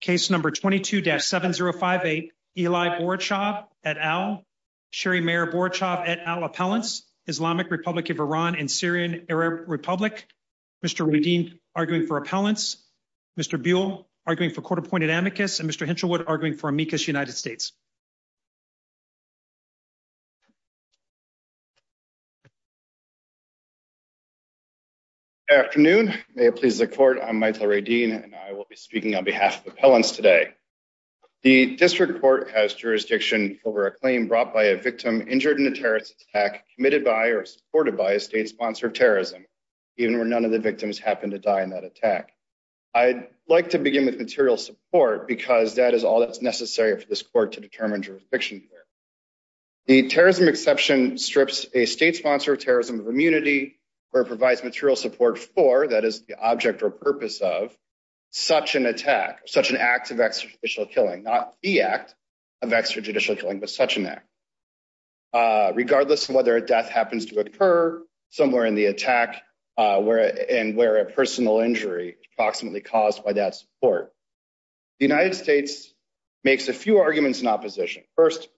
Case number 22-7058, Eli Borchov et al. Sherry Mayer Borchov et al. Appellants, Islamic Republic of Iran and Syrian Arab Republic. Mr. Radin, arguing for appellants. Mr. Buell, arguing for court-appointed amicus. And Mr. Hinchelwood, arguing for amicus United States. Good afternoon. May it please the court, I'm Michael Radin and I will be speaking on behalf of the appellants today. The district court has jurisdiction over a claim brought by a victim injured in a terrorist attack committed by or supported by a state-sponsored terrorism, even where none of the victims happened to die in that attack. I'd like to begin with material support because that is all that's necessary for this court to determine jurisdiction. The terrorism exception strips a state-sponsored terrorism of immunity or provides material support for, that is the object or purpose of, such an attack, such an act of extrajudicial killing, not the act of extrajudicial killing, but such an act. Regardless of whether a death happens to occur somewhere in the attack and where a personal injury is approximately caused by that support. The United States makes a few arguments in opposition. First,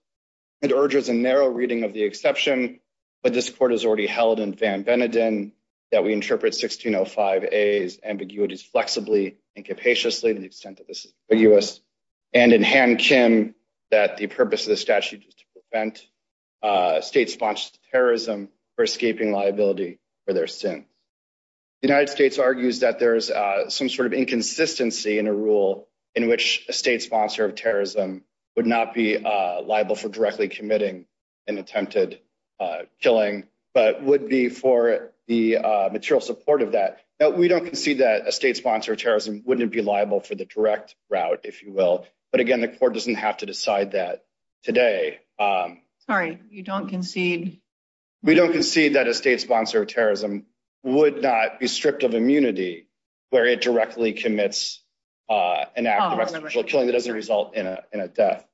it urges a narrow reading of the exception that this court has already held in Van Beneden, that we interpret 1605A's ambiguities flexibly and capaciously in the extent that this is ambiguous, and in Hamkin, that the purpose of the statute is to prevent state-sponsored terrorism for escaping liability for their sin. The United States argues that there is some sort of inconsistency in a rule in which a state-sponsored terrorism would not be liable for directly committing an attempted killing, but would be for the material support of that. Now, we don't concede that a state-sponsored terrorism wouldn't be liable for the direct route, if you will, but again, the court doesn't have to would not be stripped of immunity where it directly commits an act of extrajudicial killing that doesn't result in a death.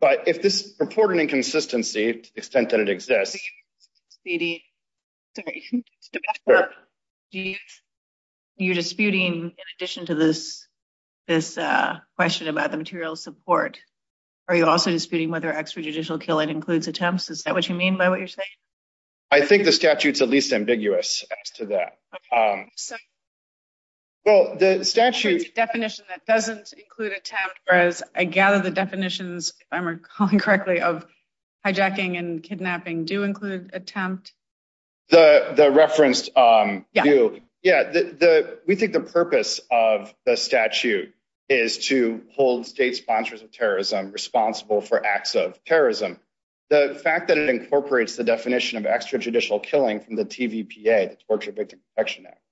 But if this purported inconsistency, to the extent that it exists... Are you disputing, in addition to this question about the material support, are you also disputing whether extrajudicial killing includes attempts? Is that what you mean by what you're saying? I think the statute's the least ambiguous to that. Well, the statute... The definition that doesn't include attempts, whereas I gather the definitions, if I'm recalling correctly, of hijacking and kidnapping do include attempts? The reference... Yeah. Yeah. We think the purpose of the statute is to hold state-sponsored terrorism responsible for acts of terrorism. The fact that it incorporates the definition of extrajudicial killing from the TVPA, Torture Victim Protection Act,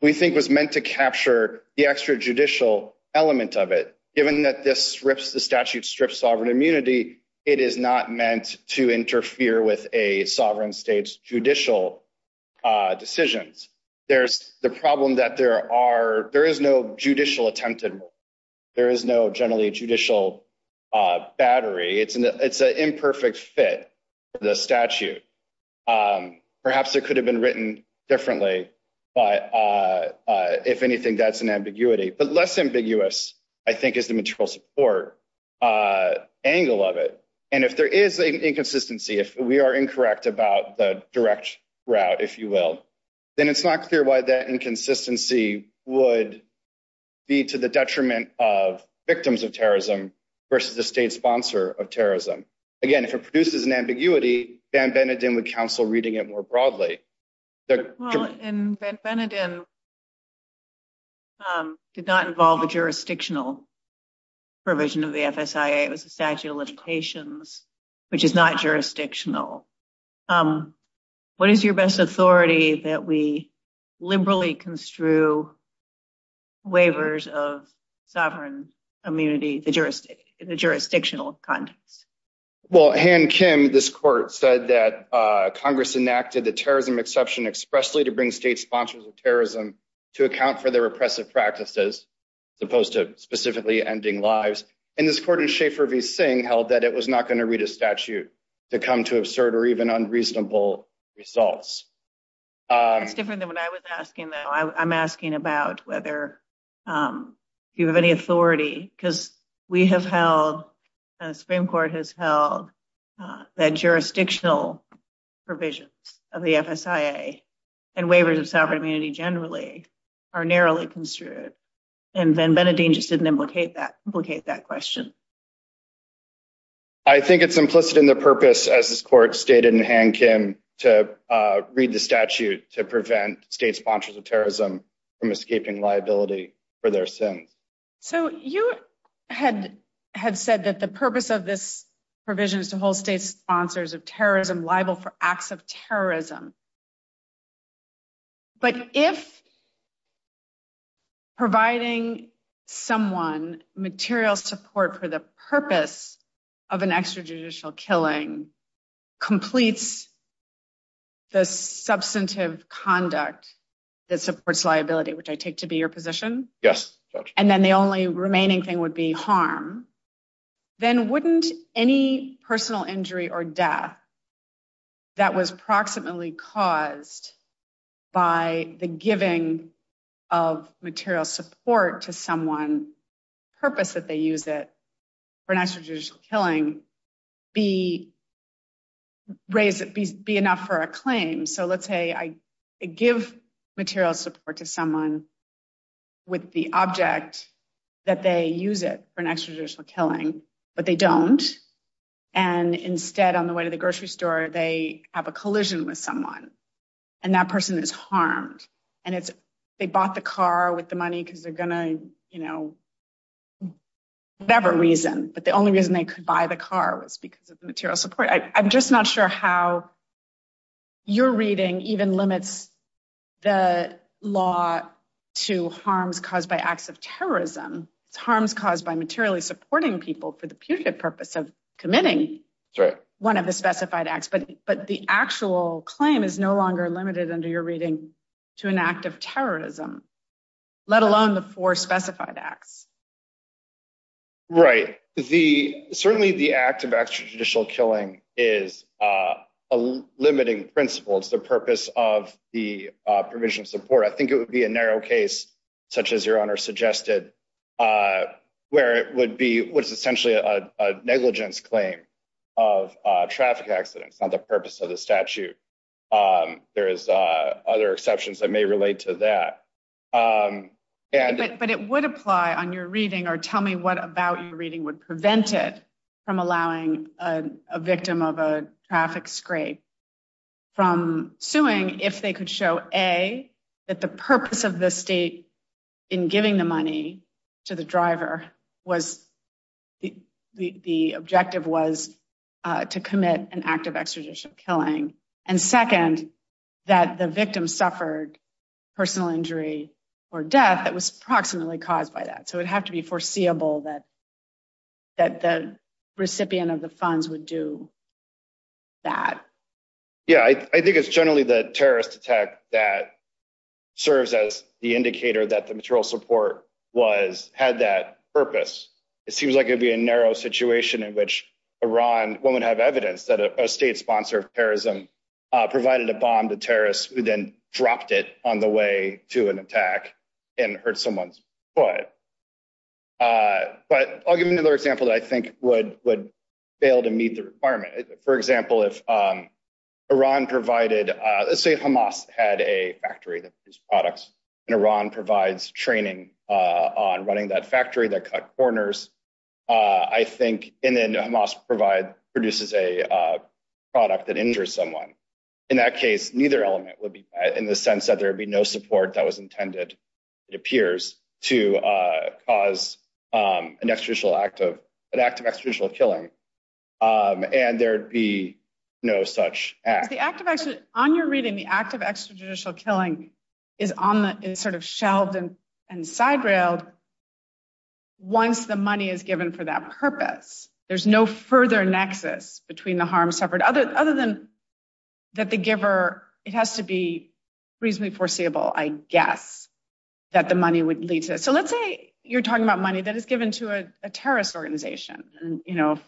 we think was meant to capture the extrajudicial element of it. Given that this rips the statute, strips sovereign immunity, it is not meant to interfere with a sovereign state's judicial decisions. There's the problem that there is no judicial attempted. There is no generally judicial battery. It's an imperfect fit for the statute. Perhaps it could have been written differently, but if anything, that's an ambiguity. But less ambiguous, I think, is the material support angle of it. And if there is an inconsistency, if we are incorrect about the direct route, if you will, then it's not clear why that inconsistency would be to the detriment of victims of terrorism versus the state sponsor of terrorism. Again, if it produces an ambiguity, Van Beneden would counsel reading it more broadly. Well, Van Beneden did not involve a jurisdictional provision of the FSIA. It was a statute of limitations, which is not jurisdictional. What is your best authority that we liberally construe waivers of sovereign immunity in the jurisdictional context? Well, Han Kim, this court, said that Congress enacted the terrorism exception expressly to bring state sponsors of terrorism to account for their oppressive practices, as opposed to specifically ending lives. And this court in Schaefer v. Singh held that it was not going to read a statute to come to absurd or even unreasonable results. It's different than what I was asking, though. I'm asking about whether you have any authority, because we have held, and the Supreme Court has held, that jurisdictional provisions of the FSIA and waivers of sovereign immunity generally are narrowly construed. And Van Beneden just didn't implicate that question. I think it's implicit in the purpose, as this court stated in Han Kim, to read the statute to prevent state sponsors of terrorism from escaping liability for their sins. So you had said that the purpose of this provision is to hold state sponsors of terrorism liable for acts of terrorism. But if providing someone material support for the purpose of an extrajudicial killing completes the substantive conduct that supports liability, which I take to be your position, and then the only remaining thing would be harm, then wouldn't any personal injury or death that was proximately caused by the giving of material support to someone's purpose that they use it for an extrajudicial killing be enough for a claim? So let's say I give material support to someone with the object that they use it for an extrajudicial killing, but they don't, and instead, on the way to the grocery store, they have a collision with someone, and that person is harmed. And they bought the car with the money because they're going to, you know, whatever reason, but the only reason they could buy the car was because of material support. I'm just not sure how your reading even limits the law to harms caused by acts of terrorism. It's harms caused by materially supporting people for the putrid purpose of committing one of the specified acts, but the actual claim is no longer limited, under your reading, to an act of terrorism, let alone the four specified acts. Right. Certainly, the act of extrajudicial killing is a limiting principle. It's the purpose of the provision of support. I think it would be a narrow case, such as your Honor suggested, where it would be essentially a negligence claim of traffic accidents, not the purpose of the statute. There is other exceptions that may relate to that. But it would apply on your reading, or tell me what about your reading would prevent it from allowing a victim of a traffic scrape from suing if they could show, A, that the purpose of the state in giving the money to the driver, the objective was to commit an act of extrajudicial killing, and second, that the victim suffered personal injury or death that was approximately caused by that. So it would have to be foreseeable that the recipient of the funds would do that. Yeah, I think it's generally the terrorist attack that serves as the indicator that the material support had that purpose. It seems like it'd be a narrow situation in which Iran won't have evidence that a state sponsor of terrorism provided a bomb to terrorists who then dropped it on the way to an attack and hurt someone's foot. But I'll give another example that would fail to meet the requirement. For example, let's say Hamas had a factory that produced products, and Iran provides training on running that factory that cut corners, I think, and then Hamas produces a product that injures someone. In that case, neither element would be in the sense that there would be no support that was intended, it appears, to cause an act of extrajudicial killing, and there'd be no such act. On your reading, the act of extrajudicial killing is sort of shelved and side-railed once the money is given for that purpose. There's no further nexus between the harm suffered, other than that the giver has to be reasonably foreseeable, I guess, that the money would lead to. Let's say you're talking about money that is given to a terrorist organization, a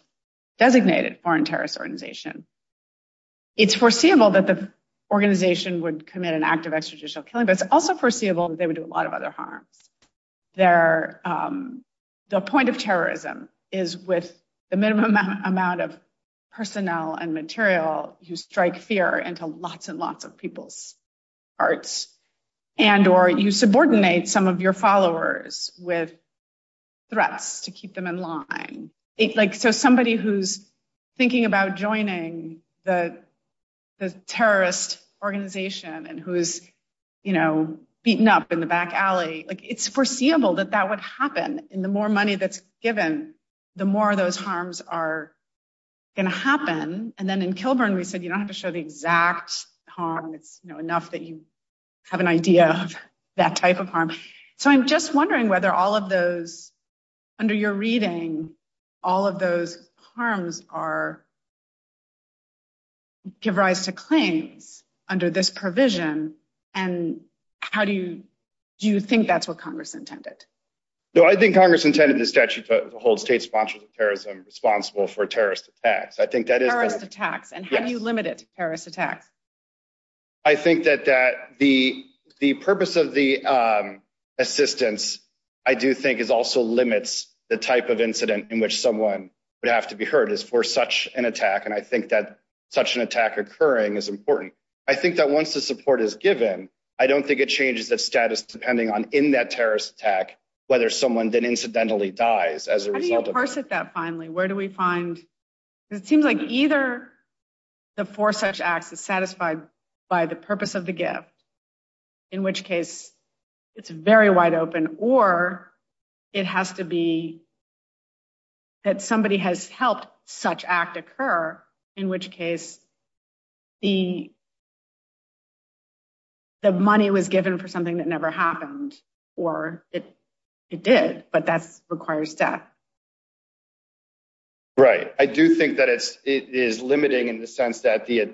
designated foreign terrorist organization. It's foreseeable that the organization would commit an act of extrajudicial killing, but it's also foreseeable that they would do a lot of other harm. The point of terrorism is with the minimum amount of personnel and material you strike fear into lots and lots of people's hearts, and or you subordinate some of your followers with threats to keep them in line. Somebody who's thinking about joining the terrorist organization and who's beaten up in the back alley, it's foreseeable that that would happen, and the more money that's given, the more those harms are going to happen, and then in Kilburn we said you don't have to show the exact harm, you know, enough that you have an idea of that type of harm. So I'm just wondering whether all of those, under your reading, all of those harms give rise to claims under this provision, and do you think that's what Congress intended? No, I think Congress intended the statute to hold state sponsors of terrorism responsible for terrorist attacks. I think that is... Terrorist attacks, and how do you limit it to terrorist attacks? I think that the purpose of the assistance, I do think, is also limits the type of incident in which someone would have to be hurt is for such an attack, and I think that such an attack occurring is important. I think that once the support is given, I don't think it changes the status depending on, in that terrorist attack, whether someone then incidentally dies. How do you parse it that finely? Where do we find... It seems like either the for such act is satisfied by the purpose of the gift, in which case it's very wide open, or it has to be that somebody has helped such act occur, in which case the or it did, but that requires death. Right. I do think that it is limiting in the sense that the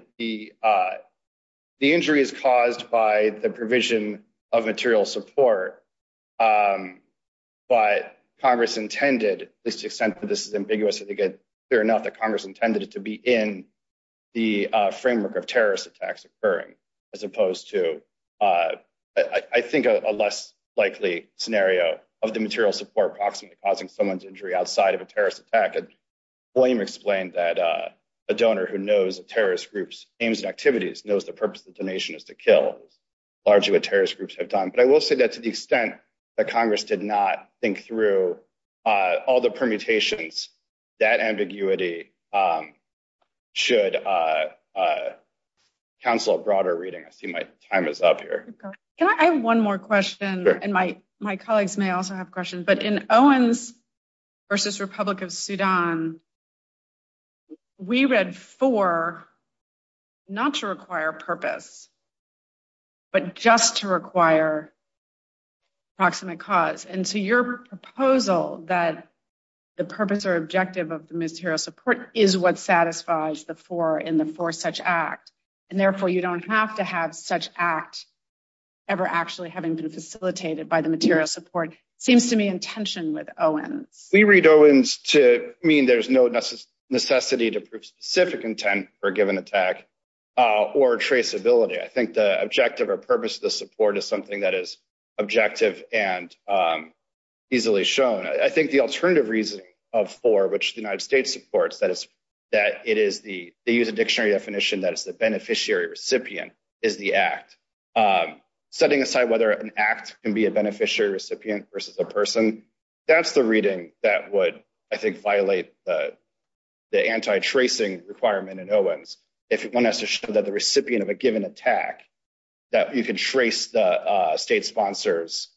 injury is caused by the provision of material support, but Congress intended, to the extent that this is ambiguous, I think it's clear enough that Congress intended it to be in the framework of terrorist attacks occurring, as opposed to, I think, a less likely scenario of the material support approximately causing someone's injury outside of a terrorist attack. William explained that a donor who knows a terrorist group's aims and activities knows the purpose of the donation is to kill, largely what terrorist groups have done. But I will say that to the extent that Congress did not think through all the permutations, that ambiguity should cancel a broader reading. I see my time is up here. Can I have one more question? And my colleagues may also have questions, but in Owens versus Republic of Sudan, we read for not to require purpose, but just to require approximate cause. And so your proposal that the purpose or objective of the material support is what satisfies the four in the four such acts, and therefore you don't have to have such acts ever actually having been facilitated by the material support seems to me in tension with Owens. We read Owens to mean there's no necessity to prove specific intent for a given attack or traceability. I think the objective or purpose of the support is something that is objective and easily shown. I think the alternative reason of four, which the United States supports, that is that it is the, they use a dictionary definition that is the beneficiary recipient is the act. Setting aside whether an act can be a beneficiary recipient versus a person, that's the reading that would, I think, violate the anti-tracing requirement in Owens. If you want us to show that the recipient of a given attack, that you can trace the state sponsors,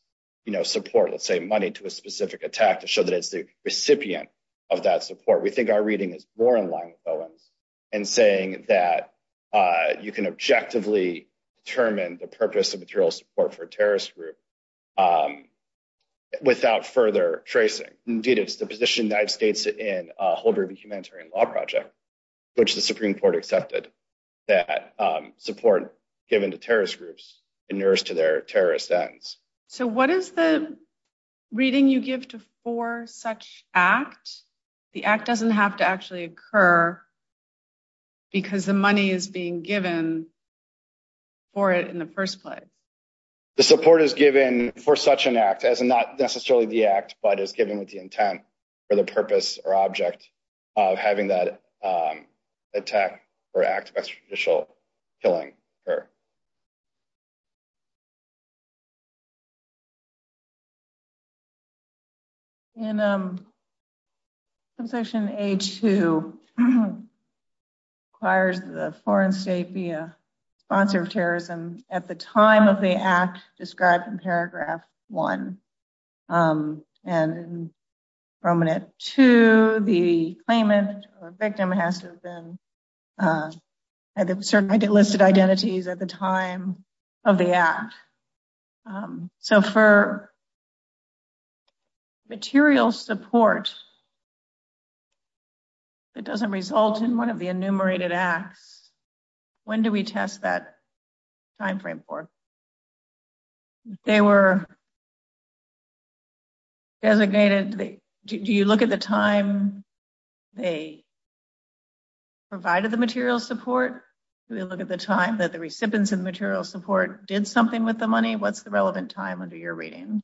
you know, support, let's say money to a specific attack to show that it's the recipient of that support. We think our reading is more in line with Owens in saying that you can objectively determine the purpose of material support for a terrorist group without further tracing. Indeed, it's the position that states in Holder v. Humanitarian Law Project, which the So what is the reading you give to for such act? The act doesn't have to actually occur because the money is being given for it in the first place. The support is given for such an act as not necessarily the act, but it's given with the intent or the purpose or object of having that attack or act of judicial killing occur. In Concession H-2, it requires that a foreign state be a sponsor of terrorism at the time of the act described in paragraph one. And victim has to have certain listed identities at the time of the act. So for material support that doesn't result in one of the enumerated acts, when do we test that time frame for? They were designated. Do you look at the time they provided the material support? Do we look at the time that the recipients of the material support did something with the money? What's the relevant time under your reading?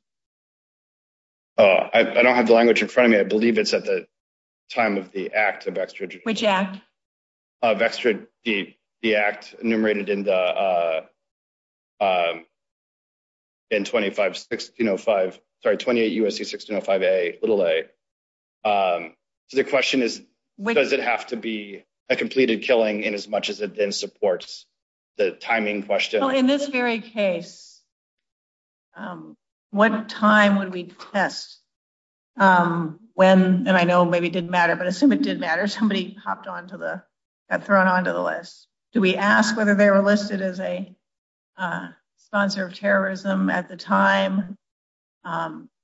I don't have the language in front of me. I believe it's at the time of the act enumerated in 28 U.S.C. 1605a. So the question is, does it have to be a completed killing in as much as it then supports the timing question? In this very case, what time would we test when, and I know maybe it didn't matter, but assuming it did matter, somebody hopped onto the, got thrown onto the list. Do we ask whether they were listed as a sponsor of terrorism at the time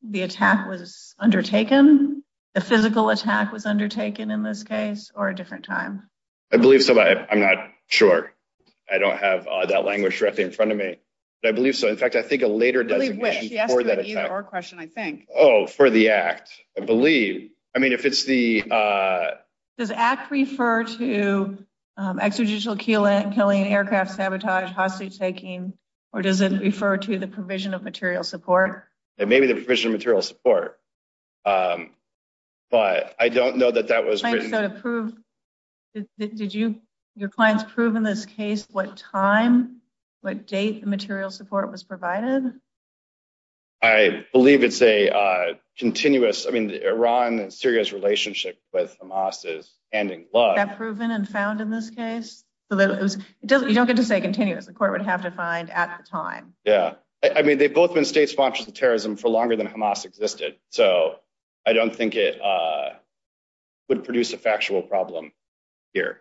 the attack was undertaken, a physical attack was undertaken in this case, or a different time? I believe so, but I'm not sure. I don't have that language in front of me. I believe so. In fact, I think a later question, I think. Oh, for the act, I believe. I mean, if it's the... Does act refer to exegetical killing, aircraft sabotage, hostage taking, or does it refer to the provision of material support? It may be the provision of material support, but I don't know that that was... Did your clients prove in this case what time, what date the material support was provided? I believe it's a continuous. I mean, Iran and Syria's relationship with Hamas is ending. Was that proven and found in this case? You don't get to say continuous. The court would have to find at the time. Yeah. I mean, they've both been state sponsors of terrorism for longer than Hamas existed, so I don't think it would produce a factual problem here.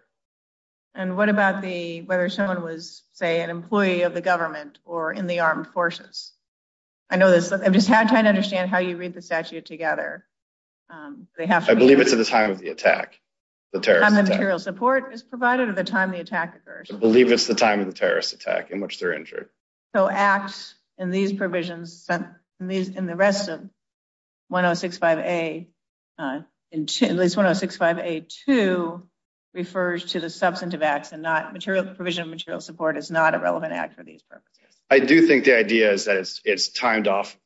And what about the, whether someone was, say, an employee of the government or in the armed forces? I know this, but I'm just trying to understand how you read the statute together. I believe it's at the time of the attack, the terrorist attack. The time the material support is provided or the time the attack occurs? I believe it's the time of the terrorist attack in which they're injured. So acts in these provisions, in the rest of 1065A, at least 1065A2, refers to the substantive acts and not material provision of material support is not a relevant act for these purposes. I do think the idea is that it's timed off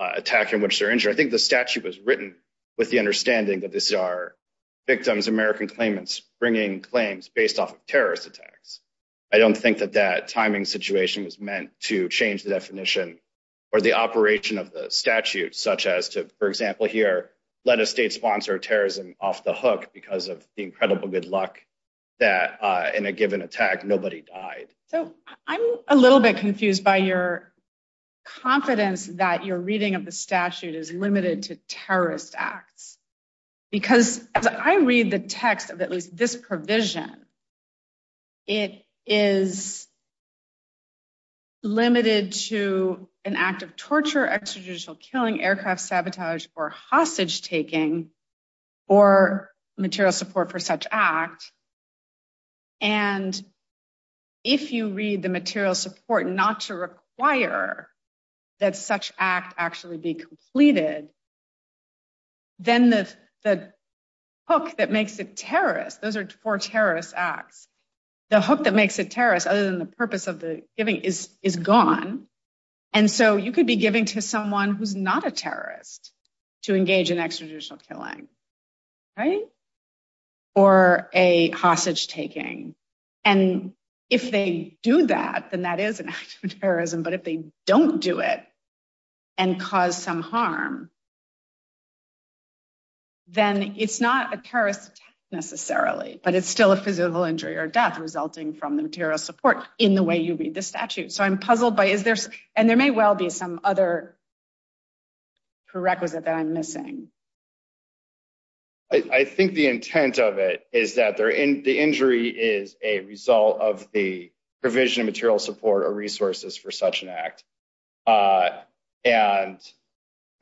attack in which they're injured. I think the statute was written with the understanding that these are victims, American claimants, bringing claims based off of terrorist attacks. I don't think that that timing situation was meant to change the definition or the operation of the statute, such as to, for example, here, let a state sponsor of terrorism off the hook because of the incredible good luck that in a given attack, nobody died. So I'm a little bit confused by your confidence that your reading of the statute is limited to an act of torture, extrajudicial killing, aircraft sabotage, or hostage taking, or material support for such act. And if you read the material support not to require that such act actually be completed, then the hook that makes it terrorist, those are for terrorist acts, the hook that makes it terrorist other than the purpose of the giving is gone. And so you could be giving to someone who's not a terrorist to engage in extrajudicial killing, right? Or a hostage taking. And if they do that, then that is an act of terrorism. But if they don't do it and cause some harm, then it's not a terrorist necessarily, but it's still a physical injury or death resulting from the material support in the way you read the statute. So I'm puzzled by, and there may well be some other prerequisite that I'm missing. I think the intent of it is that the injury is a result of the provision of material support or resources for such an act. And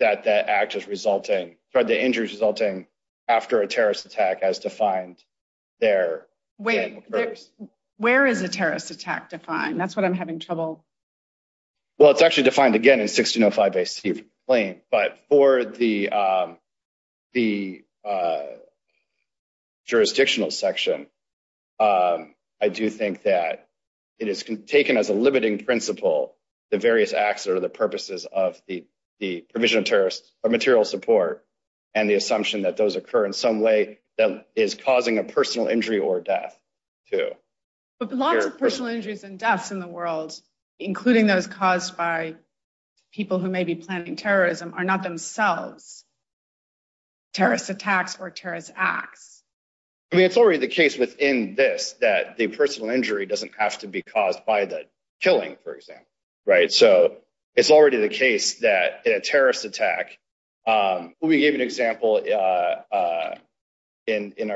that that act is resulting, or the injury is resulting after a terrorist attack as defined there. Wait, where is a terrorist attack defined? That's what I'm having trouble... Well, it's actually defined again in 1605 AC claim, but for the jurisdictional section, I do think that it is taken as a limiting principle, the various acts or the purposes of the provision of terrorist or material support and the assumption that those occur in some way that is causing a personal injury or death too. But a lot of personal injuries and deaths in the world, including those caused by people who may be planning terrorism are not themselves terrorist attacks or terrorist acts. I mean, it's already the case within this that the personal injury doesn't have to be caused by the killing, for example, right? So it's already the case that in a terrorist attack, we gave an example in our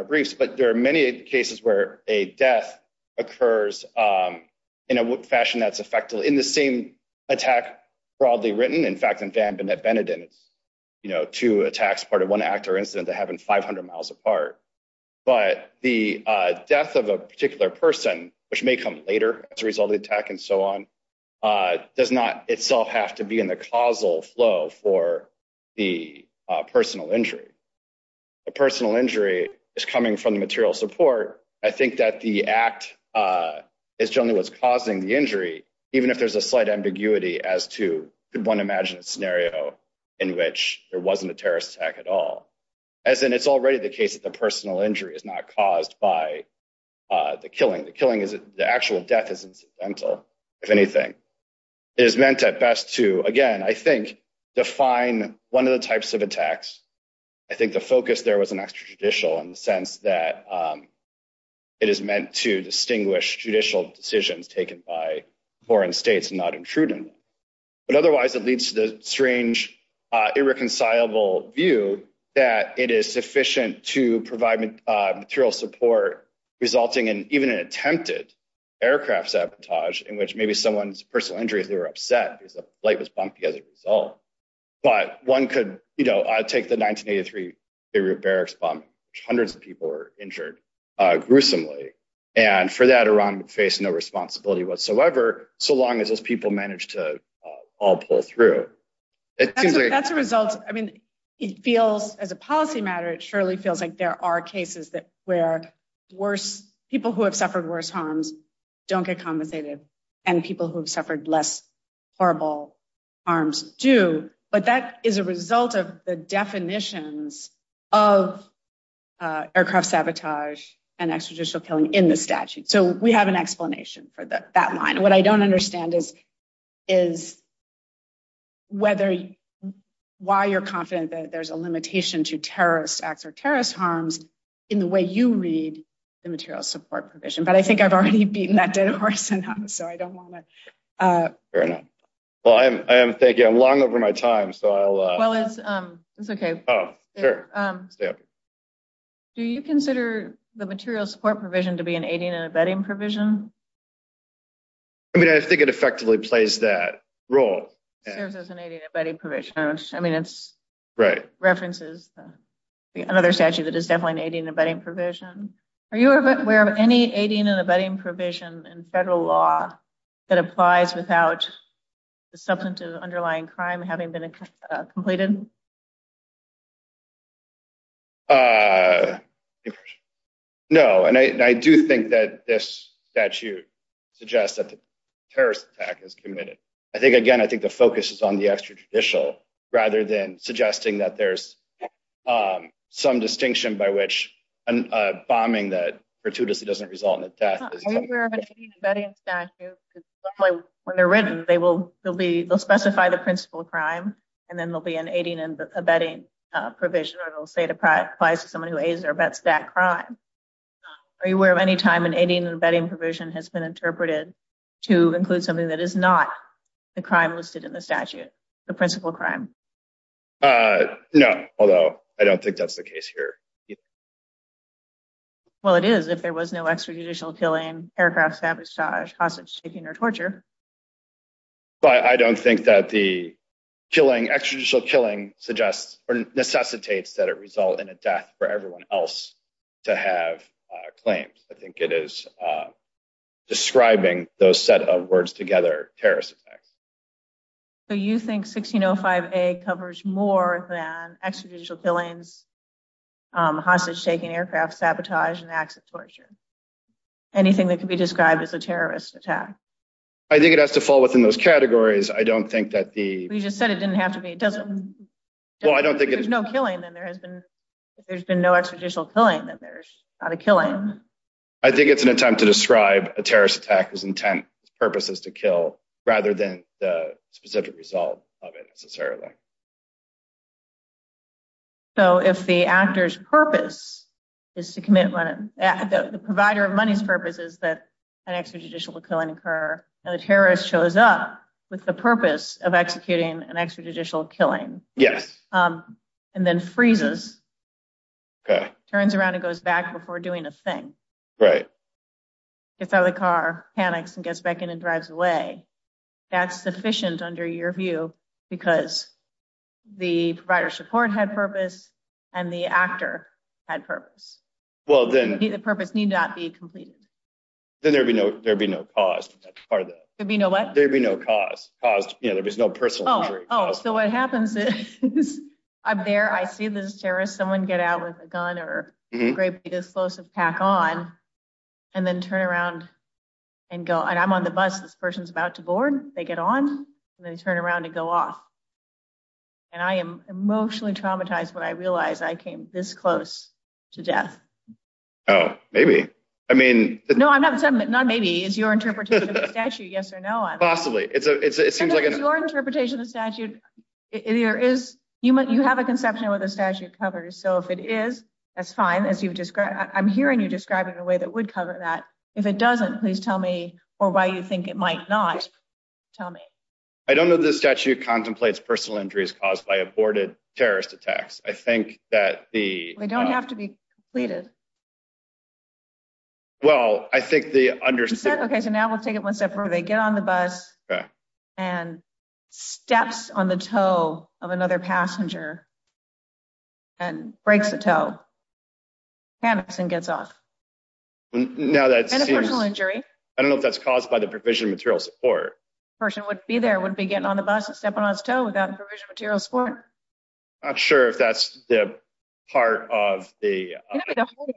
briefs, but there are many cases where a death occurs in a fashion that's effectively in the same attack broadly written. In fact, in Van Bennett-Benedict, two attacks, part of one actor incident that happened 500 miles apart, but the death of a particular person, which may come later as a result of the attack and so on, does not itself have to be in the causal flow for the personal injury. A personal injury is coming from the material support. I think that the act is generally what's causing the injury, even if there's a slight ambiguity as to, could one imagine a scenario in which there wasn't a terrorist attack at all? As in, it's already the case that the personal injury is not caused by the killing. The killing is, the actual death is incidental, if anything. It is meant at best to, again, I think define one of the types of attacks. I think the focus there was an extrajudicial in the sense that it is meant to distinguish judicial decisions taken by foreign states and not intruding. But otherwise, it leads to the strange irreconcilable view that it is sufficient to provide material support resulting in even an attempted aircraft sabotage in which maybe someone's personal injuries, they were upset because the flight was bumped together as a result. But one could, you know, take the 1983, the repair response, hundreds of people were injured gruesomely. And for that, Iran would face no responsibility whatsoever, so long as those people managed to all pull through. That's a result, I mean, it feels as a policy matter, it surely feels like there are cases where people who have suffered worse harms don't get compensated and people who have suffered less horrible harms do. But that is a result of the definitions of aircraft sabotage and extrajudicial killing in the statute. So we have an explanation for that line. What I don't understand is why you're confident that there's a limitation to terrorist acts or terrorist harms in the way you read the material support provision. But I think I've already beaten that dead horse enough, so I don't want to... Fair enough. Well, thank you. I'm long over my time, so I'll... Well, it's okay. Oh, sure. Yeah. Do you consider the material support provision to be an aiding and abetting provision? I mean, I think it effectively plays that role. If there's an aiding and abetting provision, I mean, it's... Right. ...references to another statute that is definitely an aiding and abetting provision. Are you aware of any in federal law that applies without the substance of the underlying crime having been completed? No. And I do think that this statute suggests that the terrorist attack is committed. I think, again, I think the focus is on the extrajudicial rather than suggesting that there's some distinction by which a bombing that gratuitously doesn't result in a death is... Are you aware of an aiding and abetting statute? When they're written, they'll specify the principal crime, and then there'll be an aiding and abetting provision, or it'll say it applies to someone who aids or abets that crime. Are you aware of any time an aiding and abetting provision has been interpreted to include something that is not the crime listed in the statute, the principal crime? No, although I don't think that's the case here. Yes. Well, it is if there was no extrajudicial killing, paragraphs, sabotage, hostage taking, or torture. But I don't think that the killing, extrajudicial killing suggests or necessitates that it result in a death for everyone else to have claims. I think it is describing those set of words together, terrorist attack. So you think 1605A covers more than extrajudicial killings, hostage taking, aircraft sabotage, and acts of torture? Anything that could be described as a terrorist attack? I think it has to fall within those categories. I don't think that the... You just said it didn't have to be. It doesn't... Well, I don't think it... If there's no killing, then there has been... If there's been no extrajudicial killing, then there's not a killing. I think it's an attempt to describe a terrorist attack as intent, purpose is to kill, rather than the specific result of it necessarily. So if the actor's purpose is to commit... The provider of money's purpose is that an extrajudicial killing occur, and the terrorist shows up with the purpose of executing an extrajudicial killing, and then freezes, turns around and goes back before doing a thing. Right. Gets out of the car, panics, and gets back in and drives away. That's sufficient under your view, because the provider of support had purpose, and the actor had purpose. Well, then... The purpose need not be completed. Then there'd be no cause, that's part of it. There'd be no what? There'd be no cause. Cause, there's no personal... Oh, so what happens is, I'm there, I see the terrorist, someone get out with a gun or a great big explosive pack on, and then turn around and go... And I'm on the bus, this person's about to board, they get on, and then turn around and go off. And I am emotionally traumatized when I realize I came this close to death. Oh, maybe. I mean... No, I'm not saying that, not maybe, it's your interpretation of the statute, yes or no. Possibly. It seems like... It's your interpretation of the statute. You have a conception of what the statute covers, so if it is, that's fine, as you've described... I'm hearing you describing a way that would cover that. If it doesn't, please tell me, or why you think it might not, tell me. I don't know that the statute contemplates personal injuries caused by aborted terrorist attacks. I think that the... They don't have to be completed. Well, I think the understanding... Okay, so now we'll take it one step further. They get on the bus, and steps on the toe of another passenger, and breaks the toe, panics and gets off. And a personal injury. I don't know if that's caused by the provision of material support. The person would be there, would be getting on the bus and stepping on his toe without provisional material support. I'm not sure if that's the part of the...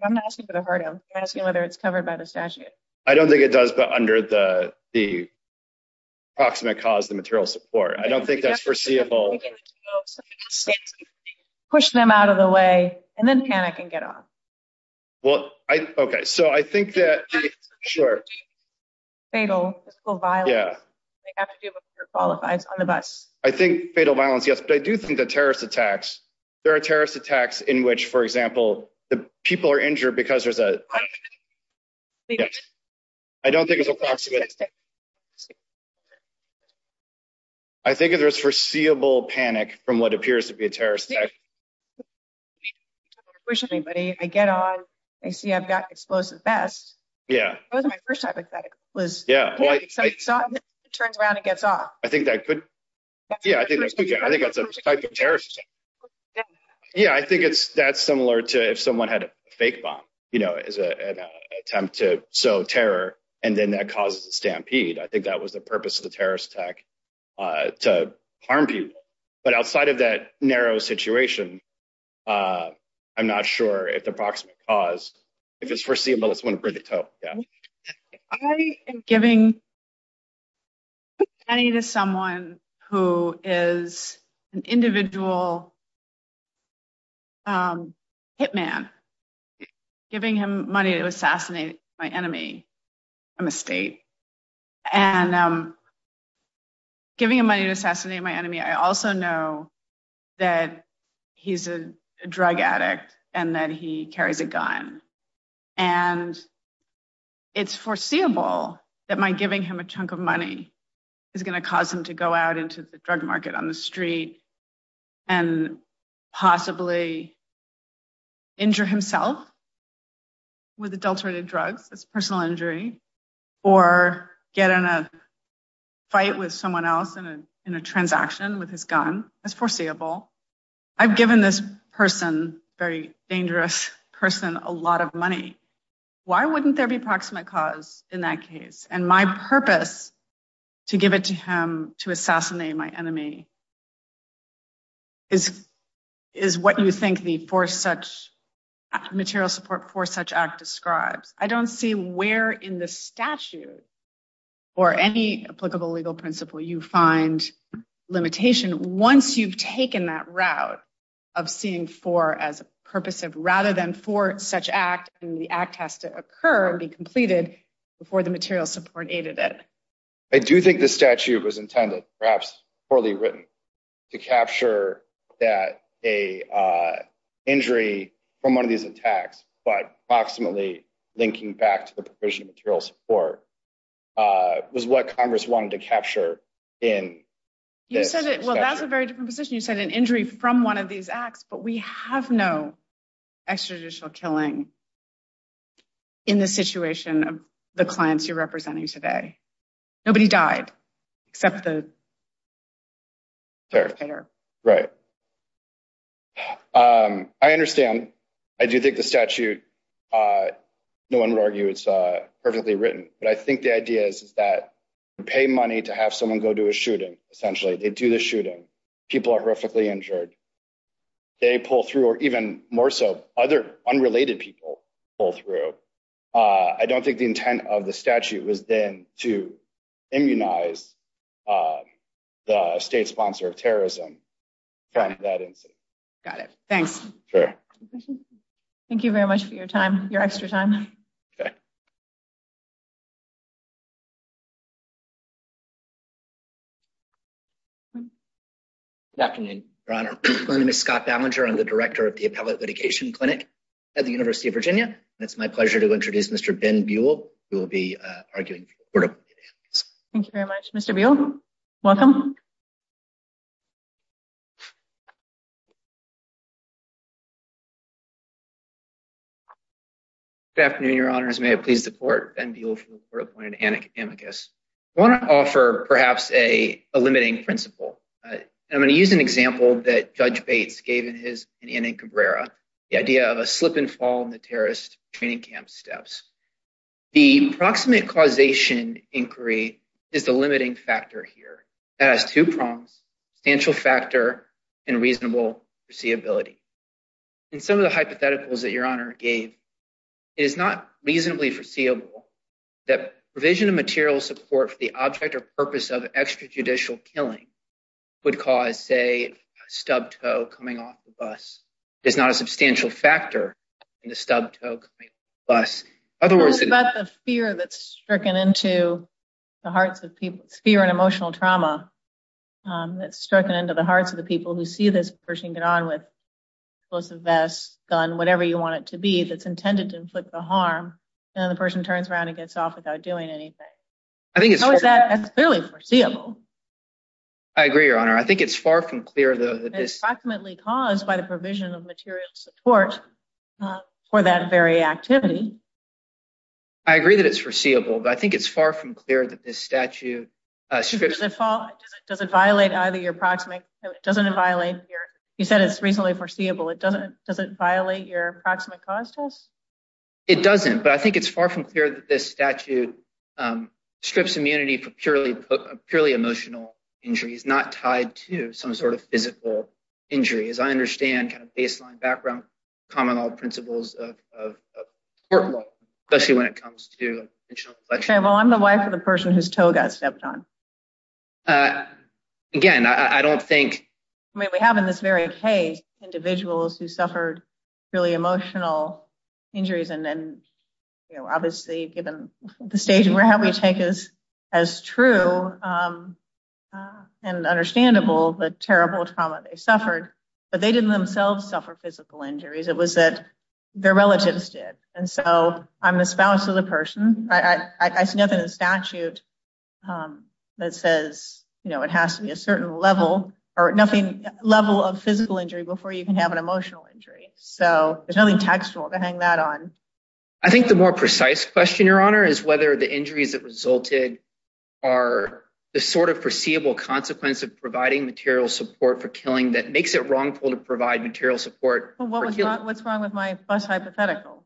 I'm not asking for the heart, I'm asking whether it's covered by the statute. I don't think it does, but under the approximate cause of material support. I don't think that's foreseeable. Push them out of the way, and then panic and get off. Well, I... Okay, so I think that... Fatal, physical violence. Yeah. They have to be able to qualify on the bus. I think fatal violence, yes, but I do think the terrorist attacks... There are terrorist attacks in which, for example, the people are injured because there's a... Yes. I don't think it's approximate. I think there's foreseeable panic from what appears to be a terrorist attack. Personally, buddy, I get on, I see I've got explosive vest. Yeah. That was my first hypothetic, was... Yeah. So I stop, turns around and gets off. I think that could... Yeah, I think that's a type of terrorist attack. What's that? Yeah, I think that's similar to if someone had a fake bomb as an attempt to sow terror, and then that causes a stampede. I think that was the purpose of the terrorist attack, to harm people. But outside of that narrow situation, I'm not sure it's approximate cause. I think it's foreseeable. It's one for the top, yeah. I am giving money to someone who is an individual hit man, giving him money to assassinate my enemy from the state. And giving him money to assassinate my enemy, I also know that he's a drug addict and that he carries a gun. And it's foreseeable that my giving him a chunk of money is gonna cause him to go out into the drug market on the street and possibly injure himself with adulterated drugs, that's personal injury, or get in a fight with someone else in a transaction with his gun. That's foreseeable. I've given this person, very dangerous person, a lot of money. Why wouldn't there be approximate cause in that case? And my purpose to give it to him to assassinate my enemy is what you think the material support for such act describes. I don't see where in the statute or any applicable legal principle you find limitation. Once you've taken that route of seeing for as a purpose of rather than for such act, the act has to occur and be completed before the material support aided it. I do think the statute was intended, perhaps poorly written, to capture that an injury from one of these attacks, but approximately linking back to the provision of material support Well, that's a very different position. You said an injury from one of these acts, but we have no extrajudicial killing in the situation of the clients you're representing today. Nobody died except the perpetrator. Right. I understand. I do think the statute, no one would argue it's perfectly written. But I think the idea is that you pay money to have someone go to a shooting, they do the shooting, people are horrifically injured, they pull through or even more so other unrelated people pull through. I don't think the intent of the statute was then to immunize the state sponsor of terrorism from that incident. Got it. Thanks. Thank you very much for your time, your extra time. Good afternoon, Your Honor. My name is Scott Ballinger. I'm the Director of the Appellate Litigation Clinic at the University of Virginia. It's my pleasure to introduce Mr. Ben Buell, who will be arguing for the Court of Anticannacus. Thank you very much, Mr. Buell. Welcome. Good afternoon, Your Honors. May I please the Court? Ben Buell from the Court of Anticannacus. I want to offer, perhaps, a limiting principle. I'm going to use an example that Judge Bates gave in his opinion in Cabrera, the idea of a slip and fall in the terrorist training camp steps. The proximate causation inquiry is the limiting factor here. It has two prongs, substantial factor and reasonable foreseeability. In some of the hypotheticals that Your Honor gave, it is not reasonably foreseeable that provision of material support for the object or purpose of extrajudicial killing would cause, say, a stubbed toe coming off the bus. There's not a substantial factor in the stubbed toe coming off the bus. In other words, it's a fear that's stricken into the hearts of people, fear and emotional trauma, that's stricken into the hearts of the people who see this person get on with explosive vest, gun, whatever you want it to be, that's intended to inflict the harm. And the person turns around and gets off without doing anything. How is that really foreseeable? I agree, Your Honor. I think it's far from clear, though, that this... It's approximately caused by the provision of material support for that very activity. I agree that it's foreseeable, but I think it's far from clear that this statute... Does it violate either your proximate... It doesn't violate your... You said it's reasonably foreseeable. It doesn't violate your approximate causes? It doesn't, but I think it's far from clear that this statute strips immunity from purely emotional injury. It's not tied to some sort of physical injury. As I understand, kind of baseline background, common law principles of court law, especially when it comes to... I'm the wife of the person whose toe got stepped on. Again, I don't think... We have in this very case individuals who suffered really emotional injuries, and then, obviously, given the stage we're at, we think is as true and understandable, the terrible trauma they suffered. But they didn't themselves suffer physical injuries. It was that their relatives did. And so I'm the spouse of the person. I sniff in the statute that says it has to be a certain level, or nothing, level of physical injury before you can have an emotional injury. So there's nothing textual to hang that on. I think the more precise question, Your Honour, is whether the injuries that resulted are the sort of perceivable consequence of providing material support for killing that makes it wrongful to provide material support for killing. What's wrong with my first hypothetical?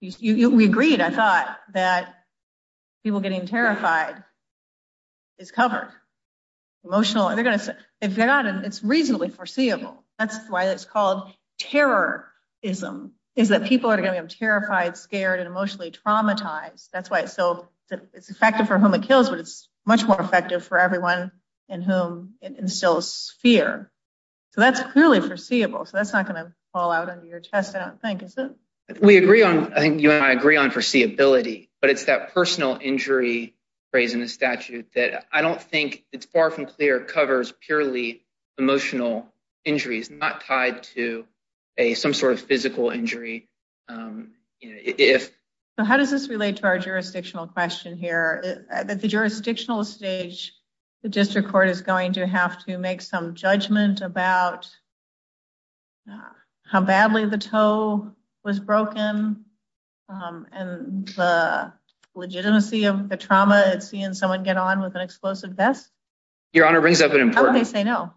We agreed, I thought, that people getting terrified is covered. Emotional... It's reasonably foreseeable. That's why it's called terrorism, is that people are going to be terrified, scared, and emotionally traumatized. That's why it's so effective for whom it kills, but it's much more effective for everyone in whom it instills fear. So that's really foreseeable. So that's not going to fall out of your chest, I don't think, is it? I think you and I agree on foreseeability, but it's that personal injury phrase in the statute that I don't think it's far from clear. It covers purely emotional injuries, not tied to some sort of physical injury. So how does this relate to our jurisdictional question here? At the jurisdictional stage, the district court is going to have to make some judgment about how badly the toe was broken, and the legitimacy of the trauma of seeing someone get on with an explosive vest? Your Honor, it brings up an important... Oh, yes, I know.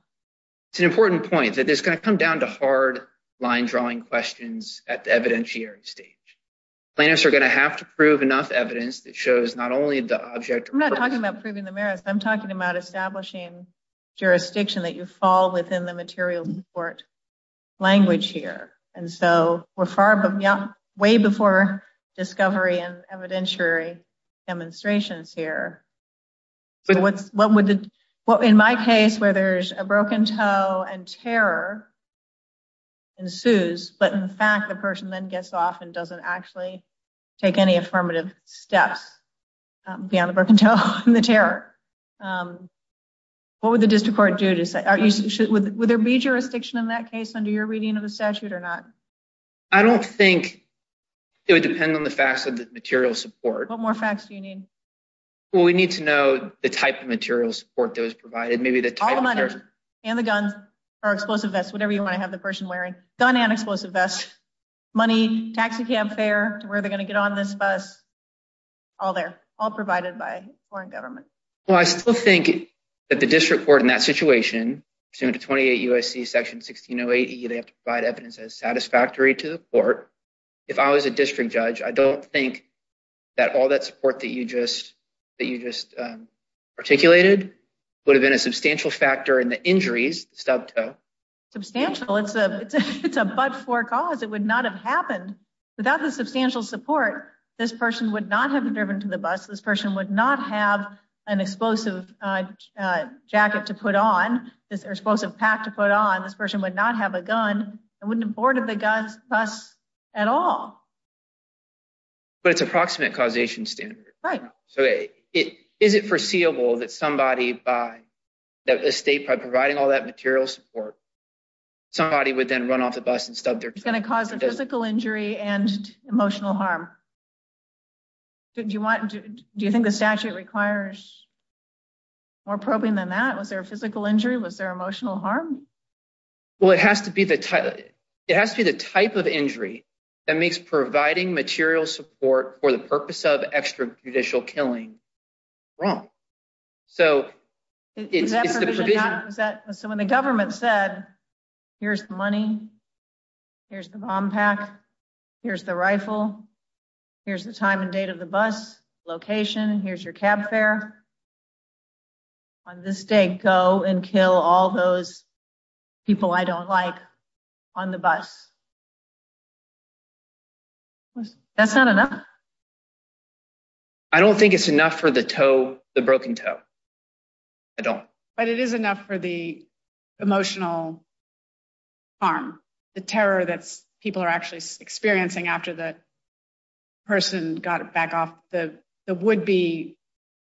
It's an important point that it's going to come down to hard line-drawing questions at the evidentiary stage. Plaintiffs are going to have to prove enough evidence that shows not only the object... I'm not talking about proving the merits. I'm talking about establishing jurisdiction, that you fall within the material court language here. And so we're way before discovery and evidentiary demonstrations here. In my case, where there's a broken toe and terror ensues, but in fact, the person then gets off and doesn't actually take any affirmative steps beyond the broken toe and the terror. What would the district court do? Would there be jurisdiction in that case under your reading of the statute or not? I don't think it would depend on the facts of the material support. What more facts do you need? Well, we need to know the type of material support that was provided. Maybe the type of... All the money and the gun or explosive vest, whatever you might have the person wearing, gun and explosive vest, money, taxicab fare, where they're going to get on this bus, all there, all provided by foreign government. Well, I still think that the district court in that situation, pursuant to 28 U.S.C. section 1608, you'd have to provide evidence as satisfactory to the court. If I was a district judge, I don't think that all that support that you just articulated would have been a substantial factor in the injuries, sub toe. Substantial, it's a but for cause. It would not have happened without the substantial support. This person would not have driven to the bus. This person would not have an explosive jacket to put on, this explosive pack to put on. This person would not have a gun. It wouldn't have boarded the bus at all. But it's approximate causation standard. Right. So is it foreseeable that somebody by... That the state, by providing all that material support, somebody would then run off the bus and stub their toe? It's going to cause a physical injury and emotional harm. Do you think the statute requires more probing than that? Was there a physical injury? Was there emotional harm? Well, it has to be the type of injury that makes providing material support for the purpose of extrajudicial killing wrong. So, if the provision... So when the government said, here's the money, here's the bomb pack, here's the rifle, here's the time and date of the bus location, here's your cab fare, on this date, go and kill all those people I don't like on the bus. That's not enough? I don't think it's enough for the toe, the broken toe. I don't. But it is enough for the emotional harm, the terror that people are actually experiencing after the person got back off the would-be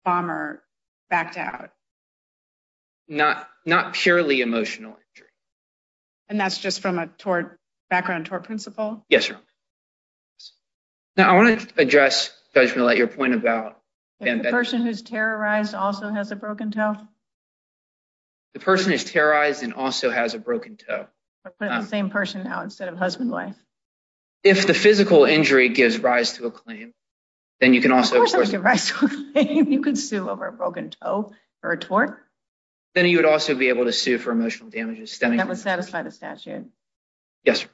bomber backed out. Not purely emotional injury. And that's just from a background tort principle? Yes, sir. Now, I want to address, if I can let your point about... The person who's terrorized also has a broken toe? The person who's terrorized and also has a broken toe. Same person now, instead of husband and wife. If the physical injury gives rise to a claim, then you can also... You can sue over a broken toe for a tort? Then you would also be able to sue for emotional damages. That would satisfy the statute. Yes, sir.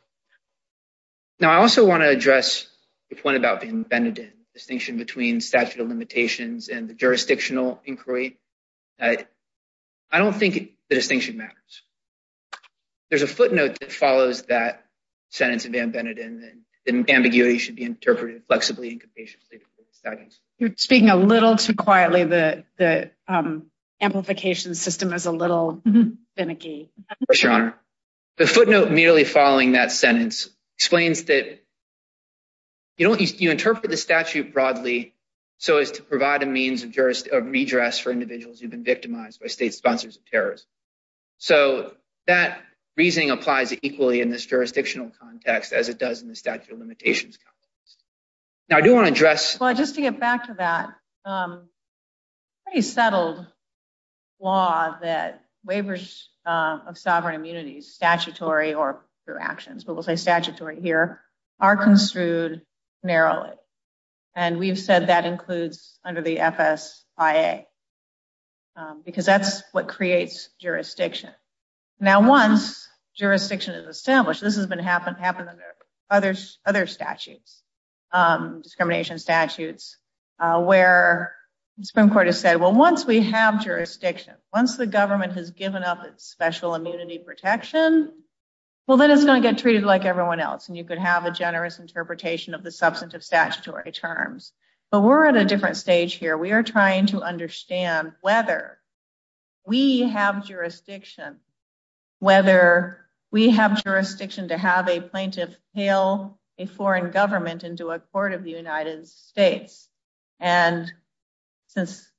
Now, I also want to address the point about the distinction between statute of limitations and the jurisdictional inquiry. I don't think the distinction matters. There's a footnote that follows that sentence of Van Beneden, and the ambiguity should be interpreted flexibly and compassionately. You're speaking a little too quietly. The amplification system is a little finicky. Yes, your honor. The footnote merely following that sentence explains that... You interpret the statute broadly so as to provide a means of redress for individuals who've been victimized by state sponsors of terrorism. So, that reasoning applies equally in this jurisdictional context as it does in the statute of limitations context. Now, I do want to address... Well, just to get back to that, a pretty settled law that waivers of sovereign immunity, statutory or per actions, but we'll say statutory here, are construed narrowly. And we've said that includes under the FSIA, because that's what creates jurisdiction. Now, once jurisdiction is established, this has been happening under other statutes, discrimination statutes, where Supreme Court has said, well, once we have jurisdiction, once the government has given up its special immunity protection, well, then it's going to get treated like everyone else. And you could have a generous interpretation of the substantive statutory terms. But we're at a different stage here. We are trying to understand whether we have jurisdiction, whether we have jurisdiction to have a plaintiff hail a foreign government into a court of the United States. And since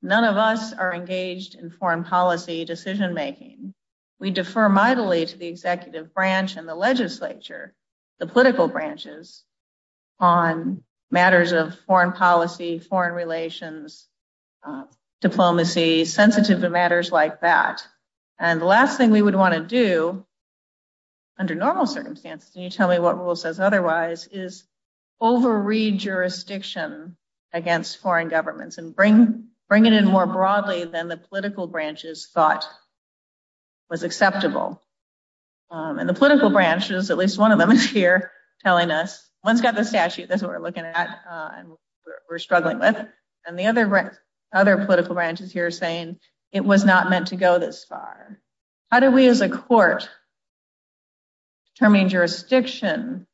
none of us are engaged in foreign policy decision-making, we defer mightily to the executive branch and the legislature, the political branches on matters of foreign policy, foreign relations, diplomacy, sensitive to matters like that. And the last thing we would want to do, under normal circumstances, can you tell me what rule says otherwise, is over-read jurisdiction against foreign governments and bring it in more broadly than the political branches thought was acceptable. And the political branches, at least one of them is here telling us, one's got the statute, that's what we're looking at. We're struggling with it. And the other political branch is here saying it was not meant to go this far. How do we, as a court, determine jurisdiction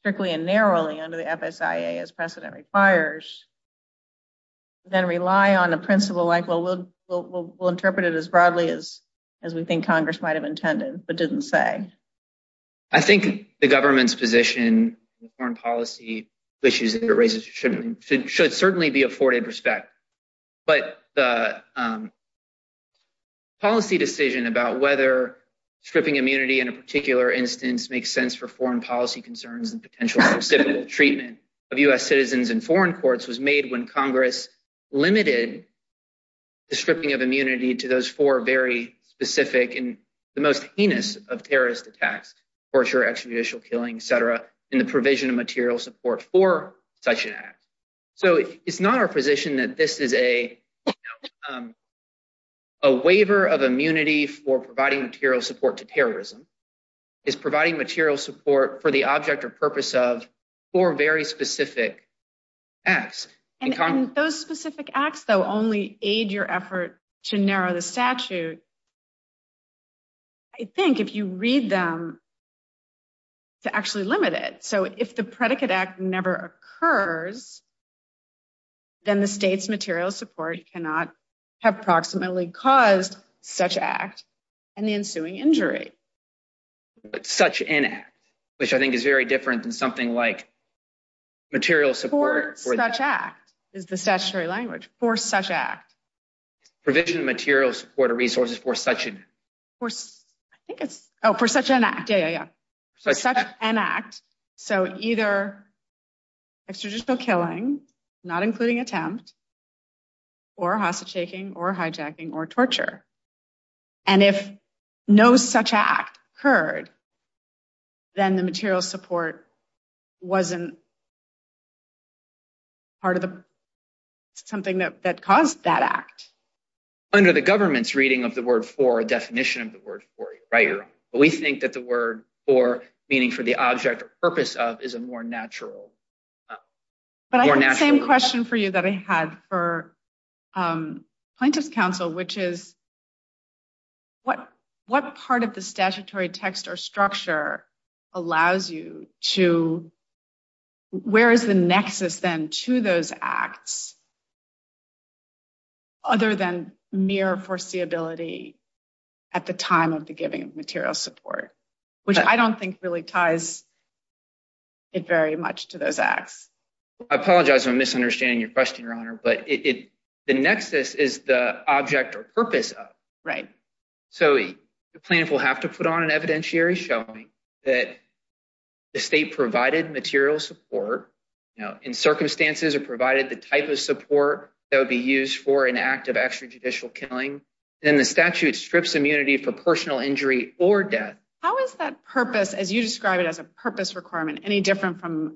strictly and narrowly under the FSIA as precedent requires, then rely on a principle like, well, we'll interpret it as broadly as we think Congress might have intended, but didn't say. I think the government's position in foreign policy issues that it raises should certainly be afforded respect. But the policy decision about whether stripping immunity in a particular instance makes sense for foreign policy concerns and potential specific treatment of U.S. citizens in foreign courts was made when Congress limited the stripping of immunity to those four very specific and the most heinous of terrorist attacks, torture, extraditional killing, et cetera, in the provision of material support for such an act. So it's not our position that this is a waiver of immunity for providing material support to terrorism. It's providing material support for the object or purpose of four very specific acts. And those specific acts, though, only aid your effort to narrow the statute. I think if you read them, it's actually limited. So if the predicate act never occurs, then the state's material support cannot have proximately caused such act and the ensuing injury. Such an act, which I think is very different than something like material support. For such act, is the statutory language, for such act. Provision of material support or resources for such an... I think it's... Oh, for such an act. Yeah, yeah, yeah. For such an act. So either extraditional killing, not including attempt, or hostile shaking, or hijacking, or torture. And if no such act occurred, then the material support wasn't part of the... It wasn't part of the statutory text or structure of such an act. Under the government's reading of the word for, a definition of the word for, right? But we think that the word for, meaning for the object or purpose of, is a more natural, more natural... But I have the same question for you that I had what part of the statutory text or structure allows you to... Where is the nexus then to those acts, other than mere foreseeability at the time of the giving of material support? Which I don't think really ties it very much to those acts. I apologize, I'm misunderstanding your question, Your Honor. But the nexus is the object or purpose of. Right. So the plaintiff will have to put on an evidentiary showing that the state provided material support, in circumstances it provided the type of support that would be used for an act of extrajudicial killing. Then the statute strips immunity of proportional injury or death. How is that purpose, as you describe it as a purpose requirement, any different from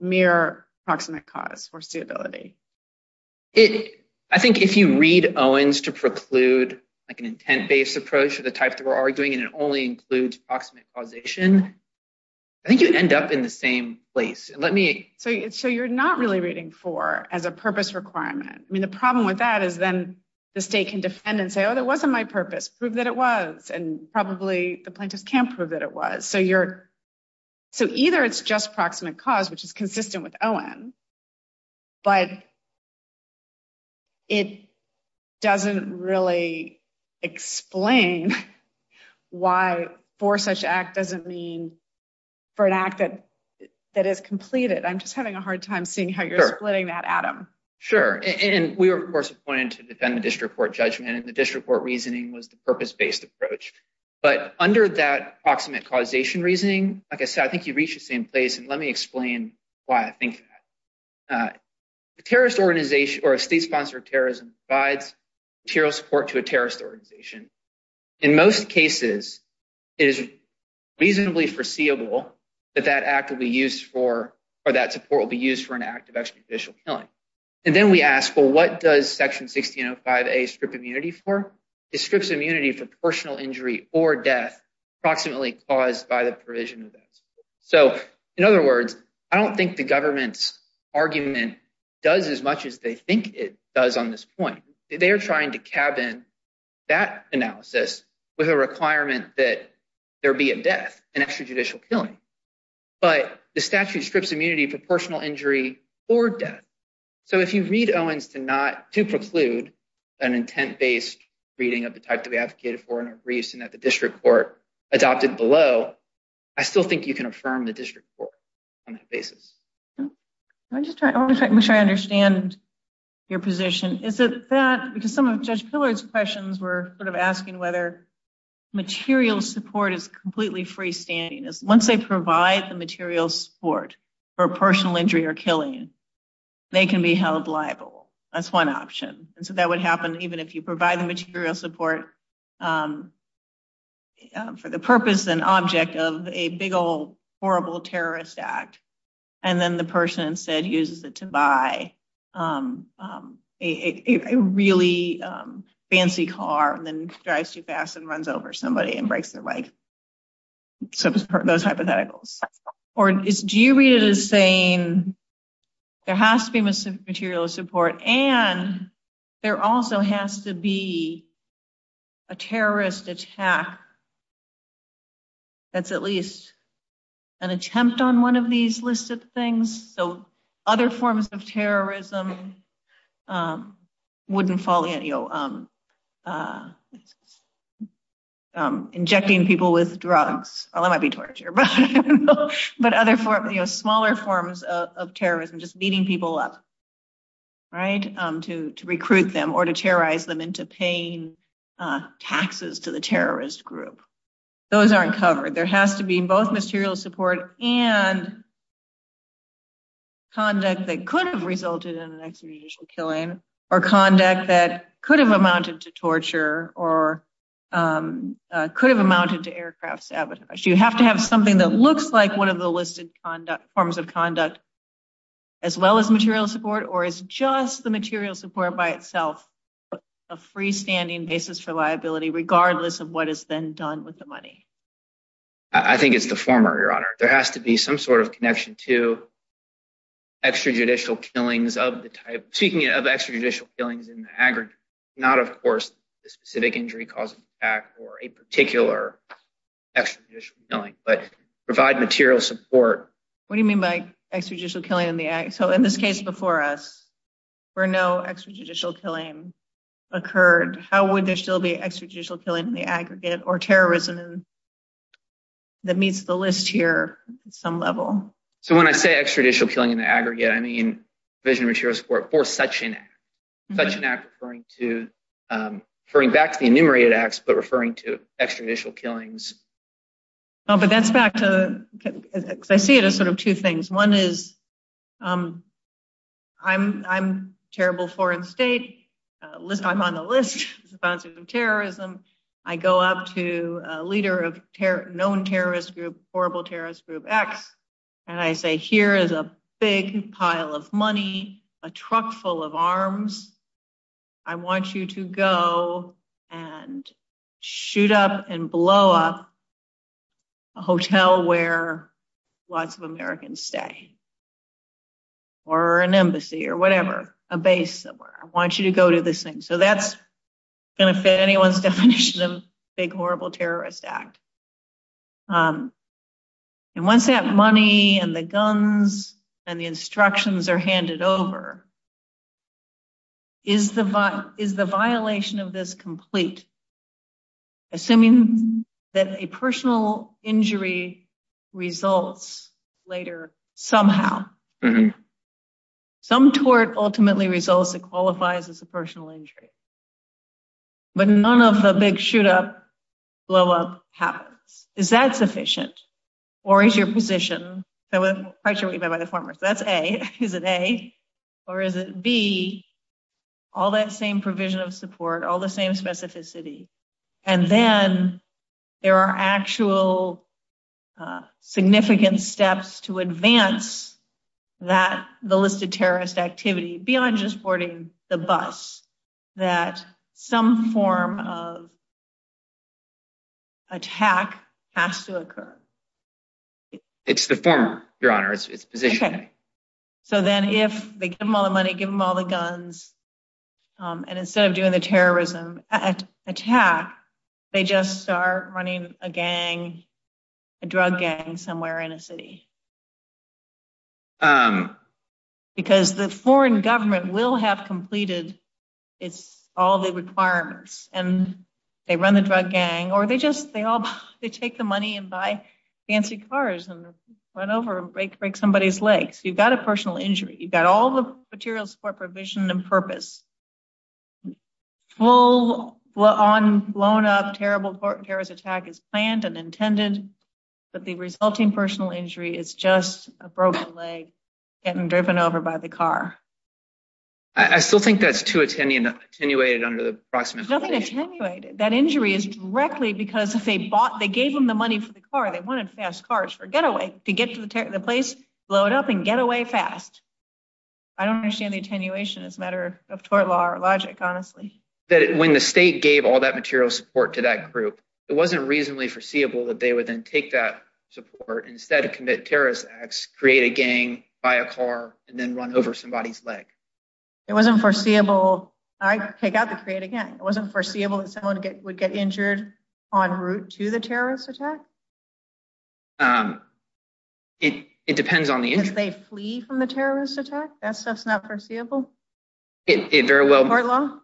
mere approximate cause, foreseeability? I think if you read Owens to preclude like an intent-based approach to the type that we're arguing, and it only includes approximate causation, I think you'd end up in the same place. Let me... So you're not really reading for as a purpose requirement. I mean, the problem with that is then the state can defend and say, oh, that wasn't my purpose. Prove that it was. And probably the plaintiff can't prove that it was. So either it's just approximate cause, which is consistent with Owens, but it doesn't really explain why for such act doesn't mean for an act that is completed. I'm just having a hard time seeing how you're splitting that, Adam. Sure. And we were, of course, appointed to defend the district court judgment. And the district court reasoning was the purpose-based approach. But under that approximate causation reasoning, like I said, I think you reach the same place. And let me explain why I think that. A terrorist organization or a state sponsor of terrorism provides material support to a terrorist organization. In most cases, it is reasonably foreseeable that that act will be used for, or that support will be used for an act of extrajudicial killing. And then we ask, well, what does section 1605A strip immunity for? It strips immunity for personal injury or death approximately caused by the provision of those. So in other words, I don't think the government's argument does as much as they think it does on this point. They are trying to cabin that analysis with a requirement that there be a death, an extrajudicial killing. But the statute strips immunity for personal injury or death. So if you read Owens to not, to preclude an intent-based reading of the type to be advocated for in a brief and that the district court adopted below, I still think you can affirm the district court on that basis. I'm just trying to understand your position. Is it that, because some of Judge Pillard's questions were sort of asking whether material support is completely freestanding. Once they provide the material support for personal injury or killing, they can be held liable. That's one option. And so that would happen even if you provide the material support for the purpose and object of a big old horrible terrorist act. And then the person instead uses it to buy a really fancy car and then drives too fast and runs over somebody and breaks their leg. So those hypotheticals. Or do you read it as saying there has to be material support and there also has to be a terrorist attack that's at least an attempt on one of these lists of things. So other forms of terrorism wouldn't fall in. Injecting people with drugs, although that might be torture, but other smaller forms of terrorism, just beating people up to recruit them or to terrorize them into paying taxes to the terrorist group. Those aren't covered. There has to be both material support and conduct that could have resulted in an extramarital killing or conduct that could have amounted to torture or could have amounted to aircraft sabotage. You have to have something that looks like one of the listed forms of conduct as well as material support or is just the material support by itself a freestanding basis for liability, I think it's the former, Your Honor. There has to be some sort of connection to extrajudicial killings of the type, speaking of extrajudicial killings in the aggregate, not, of course, the specific injury causing the attack or a particular extrajudicial killing, but provide material support. What do you mean by extrajudicial killing in the aggregate? So in this case before us where no extrajudicial killing occurred, how would there still be extrajudicial killing in the aggregate or terrorism that meets the list here at some level? So when I say extrajudicial killing in the aggregate, I mean division of material support or such an act, such an act referring back to the enumerated acts but referring to extrajudicial killings. No, but that's back to, because I see it as sort of two things. One is I'm terrible foreign state, I'm on the list of terrorism. I go up to a leader of known terrorist group, horrible terrorist group X, and I say here is a big pile of money, a truck full of arms. I want you to go and shoot up and blow up a hotel where lots of Americans stay or an embassy or whatever, a base somewhere. I want you to go to this thing. So that's going to fit anyone's definition of big, horrible terrorist act. And once that money and the guns and the instructions are handed over, is the violation of this complete? Assuming that a personal injury results later somehow. Some tort ultimately results and qualifies as a personal injury. But none of the big shoot up, blow up happens. Is that sufficient or is your position? So that's A, is it A or is it B? All that same provision of support, all the same specificity. And then there are actual significant steps to advance that the list of terrorist activity beyond just boarding the bus, that some form of attack has to occur. It's the former, Your Honor. It's positioning. So then if they give them all the money, give them all the guns, and instead of doing the terrorism attack, they just start running a gang, a drug gang somewhere in a city. Because the foreign government will have completed all the requirements and they run the drug gang or they just, they take the money and buy fancy cars and run over and break somebody's legs. You've got a personal injury. You've got all the materials for provision and purpose. Full on blown up, terrible terrorist attack is planned and intended. But the resulting personal injury is just a broken leg getting driven over by the car. I still think that's too attenuated under the proximate clause. Nothing attenuated. That injury is directly because if they bought, they gave them the money for the car, they wanted fast cars for getaway to get to the place, blow it up and get away fast. I don't understand the attenuation. It's a matter of tort law or logic, honestly. That when the state gave all that material support to that group, it wasn't reasonably foreseeable that they would then take that support instead of commit terrorist acts, create a gang, buy a car and then run over somebody's leg. It wasn't foreseeable. I take that to create a gang. It wasn't foreseeable that someone would get injured en route to the terrorist attack? It depends on the injury. If they flee from the terrorist attack, that's just not foreseeable? It very well- Tort law?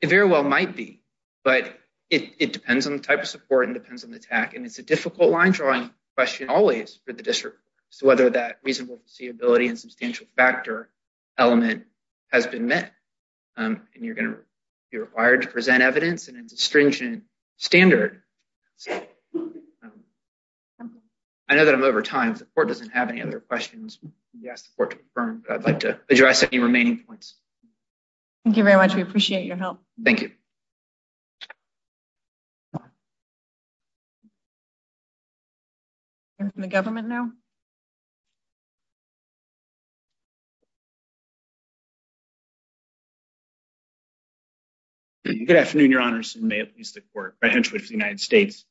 It very well might be. But it depends on the type of support and depends on the attack. It's a difficult line drawing question, always, for the district, so whether that reasonable foreseeability and substantial factor element has been met. And you're going to be required to present evidence in a stringent standard. I know that I'm over time. The court doesn't have any other questions. We asked the court to confirm, but I'd like to address any remaining points. Thank you very much. We appreciate your help. Thank you. And from the government now? Good afternoon, Your Honors, and may it please the court, Brian Schwartz of the United States.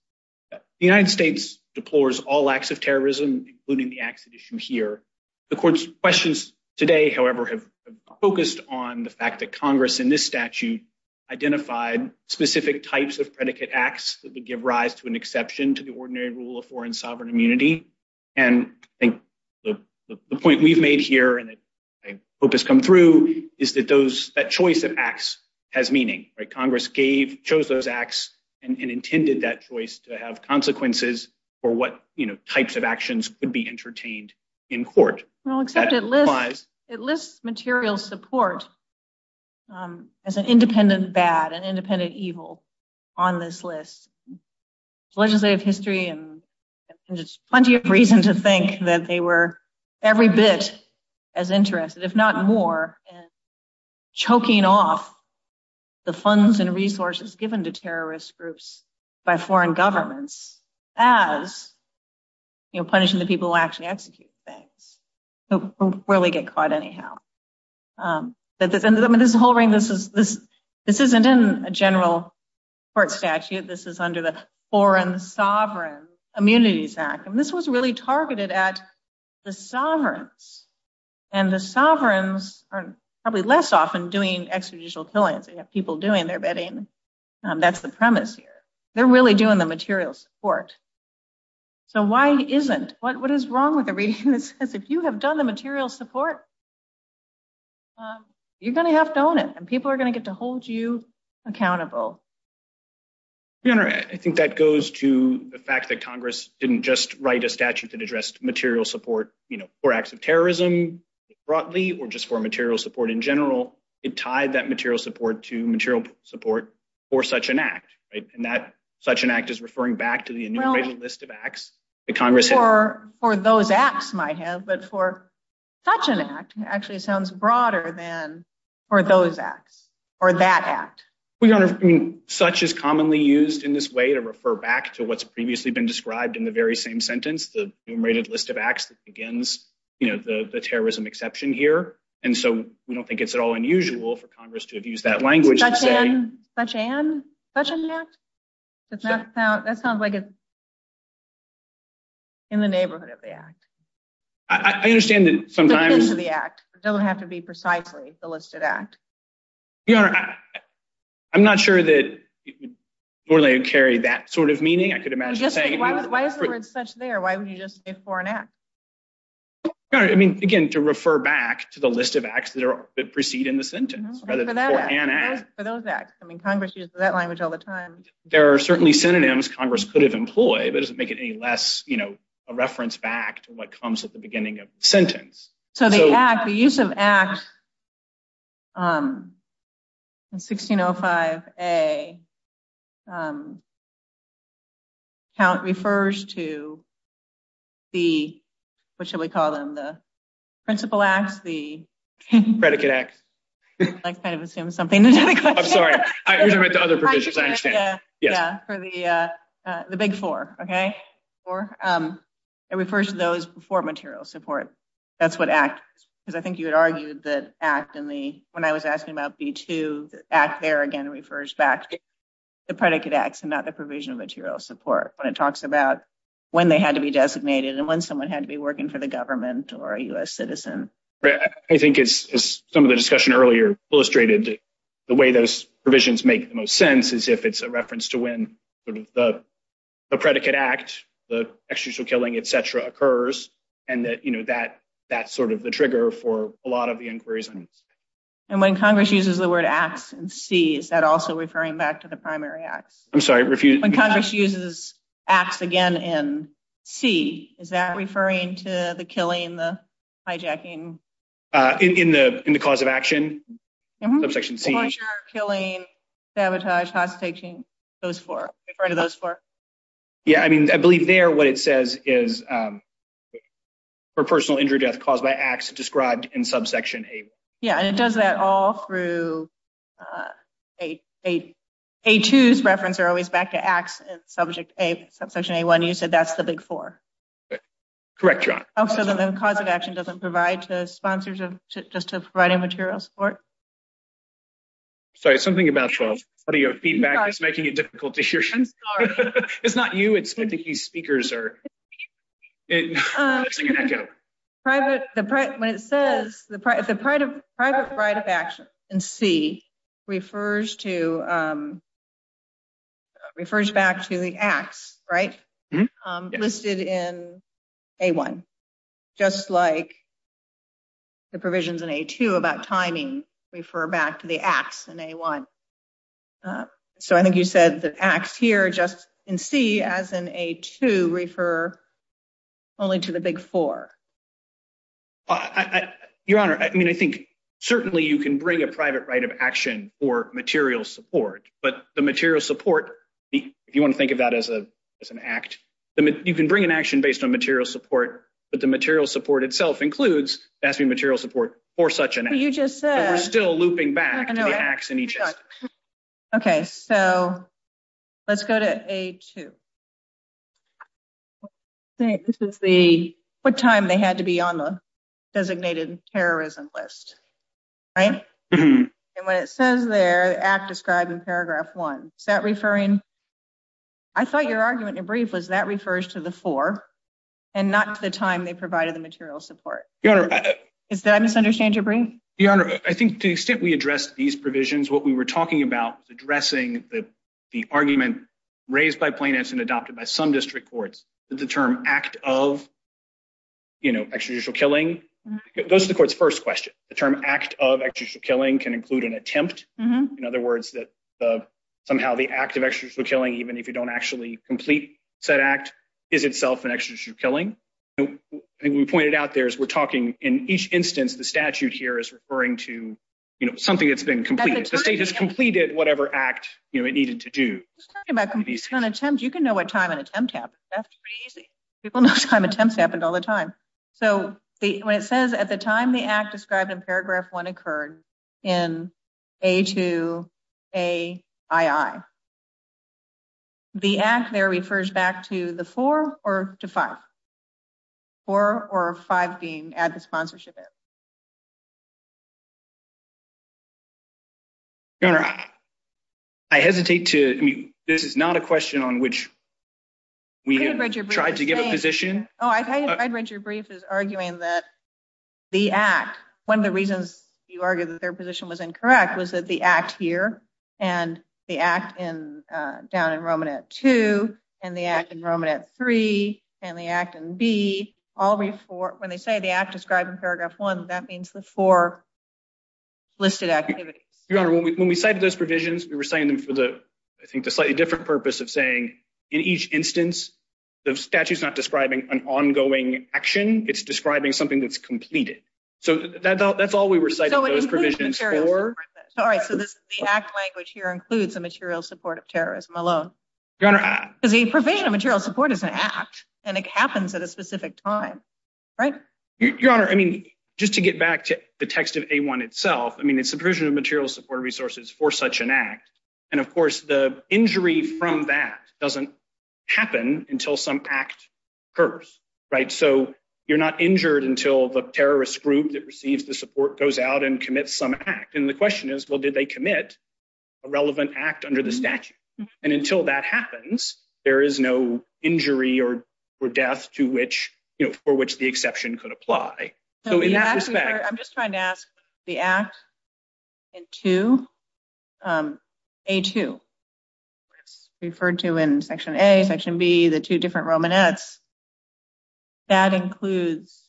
The United States deplores all acts of terrorism, including the acts that you see here. The court's questions today, however, have focused on the fact that Congress, in this statute, identified specific types of predicate acts that would give rise to an exception to the ordinary rule of foreign sovereign immunity. And I think the point we've made here, and I hope has come through, is that that choice of acts has meaning. Congress chose those acts and intended that choice to have consequences for what types of actions would be entertained in court. Well, except it lists material support as an independent bad, an independent evil on this list. It's legislative history, and there's plenty of reason to think that they were every bit as interested, if not more, in choking off the funds and resources given to terrorist groups by foreign governments as, you know, punishing the people who actually execute the things, who really get caught anyhow. But this whole thing, this isn't in a general court statute. This is under the Foreign Sovereign Immunities Act, and this was really targeted at the sovereigns. And the sovereigns are probably less often doing expeditial killings than people doing their bedding. That's the premise here. They're really doing the material support. So why it isn't? What is wrong with the reading that says, if you have done the material support, you're going to have to own it, and people are going to get to hold you accountable. Your Honor, I think that goes to the fact that Congress didn't just write a statute that addressed material support, you know, for acts of terrorism broadly, or just for material support in general. It tied that material support to material support for such an act, right? And that such an act is referring back to the immigration list of acts that Congress- For those acts, my head, but for such an act actually sounds broader than for those acts or that act. Your Honor, I mean, such is commonly used in this way to refer back to what's previously been described in the very same sentence, the list of acts that begins, you know, the terrorism exception here. And so we don't think it's at all unusual for Congress to have used that language. Such an, such an, such an act? That sounds like it's in the neighborhood of the act. I understand that sometimes- In the neighborhood of the act. It doesn't have to be precisely the listed act. Your Honor, I'm not sure that, more than I would carry that sort of meaning. I could imagine saying- Why is there an expression there? Why would you just say for an act? Your Honor, I mean, again, to refer back to the list of acts that are, that proceed in the sentence, whether it's for an act- For those acts. I mean, Congress uses that language all the time. There are certainly synonyms Congress could have employed, but it doesn't make it any less, you know, a reference back to what comes at the beginning of the sentence. So the act, the use of acts, in 1605A, count refers to the, what should we call them? The principal act, the- Predicate act. I kind of assumed something. I'm sorry. I've never read the other provisions, I understand. Yeah. For the, the big four, okay? Four. It refers to those four material supports. That's what act, because I think you had argued that act in the, when I was asking about B2, act there again refers back to the predicate acts and not the provision of material support. When it talks about when they had to be designated and when someone had to be working for the government or a US citizen. I think as some of the discussion earlier illustrated, the way those provisions make the most sense is if it's a reference to when the predicate act, the execution, killing, et cetera, occurs. And that, you know, that, that's sort of the trigger for a lot of the inquiries. And when Congress uses the word acts in C, is that also referring back to the primary act? I'm sorry, refuse- When Congress uses acts again in C, is that referring to the killing, the hijacking? In the, in the cause of action, subsection C. The murder, killing, sabotage, hostage taking, those four, referring to those four. Yeah. I mean, I believe there, what it says is, for personal injured death caused by acts described in subsection A1. Yeah, and it does that all through A2's reference are always back to acts in subject A, subsection A1, you said that's the big four. Correct, John. Oh, so then the cause of action doesn't provide to sponsors just to provide a material support? Sorry, something about Charles. What are your feedback? It's making it difficult to hear. It's not you, it's typically speakers or- Private, when it says, the private right of action in C refers to, refers back to the acts, right? Listed in A1. Just like the provisions in A2 about timing refer back to the acts in A1. So I think you said the acts here just in C, as in A2, refer only to the big four. Your Honor, I mean, I think certainly you can bring a private right of action for material support, but the material support, if you want to think of that as an act, you can bring an action based on material support, but the material support itself includes asking material support for such an act. But you just said- So we're still looping back to the acts in each. Okay, so let's go to A2. I think this is the, what time they had to be on the designated terrorism list, right? And when it says there, act described in paragraph one, is that referring, I thought your argument in a brief was that refers to the four and not the time they provided the material support. Your Honor- Did I misunderstand your brief? Your Honor, I think to the extent we address these provisions, what we were talking about is addressing the argument raised by plaintiffs and adopted by some district courts that the term act of extrajudicial killing, those are the court's first question. The term act of extrajudicial killing can include an attempt. In other words, that somehow the act of extrajudicial killing, even if you don't actually complete said act, is itself an extrajudicial killing. And we pointed out there as we're talking, in each instance, the statute here is referring to something that's been completed. The state has completed whatever act it needed to do. Talking about completion of an attempt, you can know what time an attempt happened. That's pretty easy. People know time attempts happened all the time. So when it says at the time, the act described in paragraph one occurred in A to AII, the act there refers back to the four or to five, four or five being as the sponsorship is. I hesitate to, this is not a question on which we tried to get a position. Oh, I read your brief is arguing that the act, one of the reasons you argued that their position was incorrect was that the act here and the act in down in Roman at two and the act in Roman at three and the act in B always for, when they say the act described in paragraph one, that means the four listed activity. Your honor, when we cited those provisions, we were saying them for the, I think the slightly different purpose of saying in each instance, the statute's not describing an ongoing action. It's describing something that's completed. So that's all we were citing those provisions for. All right, so this is the act language here includes a material support of terrorism alone. Your honor. The provision of material support is an act and it happens at a specific time, right? Your honor, I mean, just to get back to the text of A1 itself, I mean, it's a provision of material support resources for such an act. And of course the injury from that doesn't happen until some act occurs, right? So you're not injured until the terrorist group that receives the support goes out and commit some act. And the question is, well, did they commit a relevant act under the statute? And until that happens, there is no injury or death to which, for which the exception could apply. So in that respect- I'm just trying to ask the act in two, A2, referred to in section A, section B, the two different Roman Fs, that includes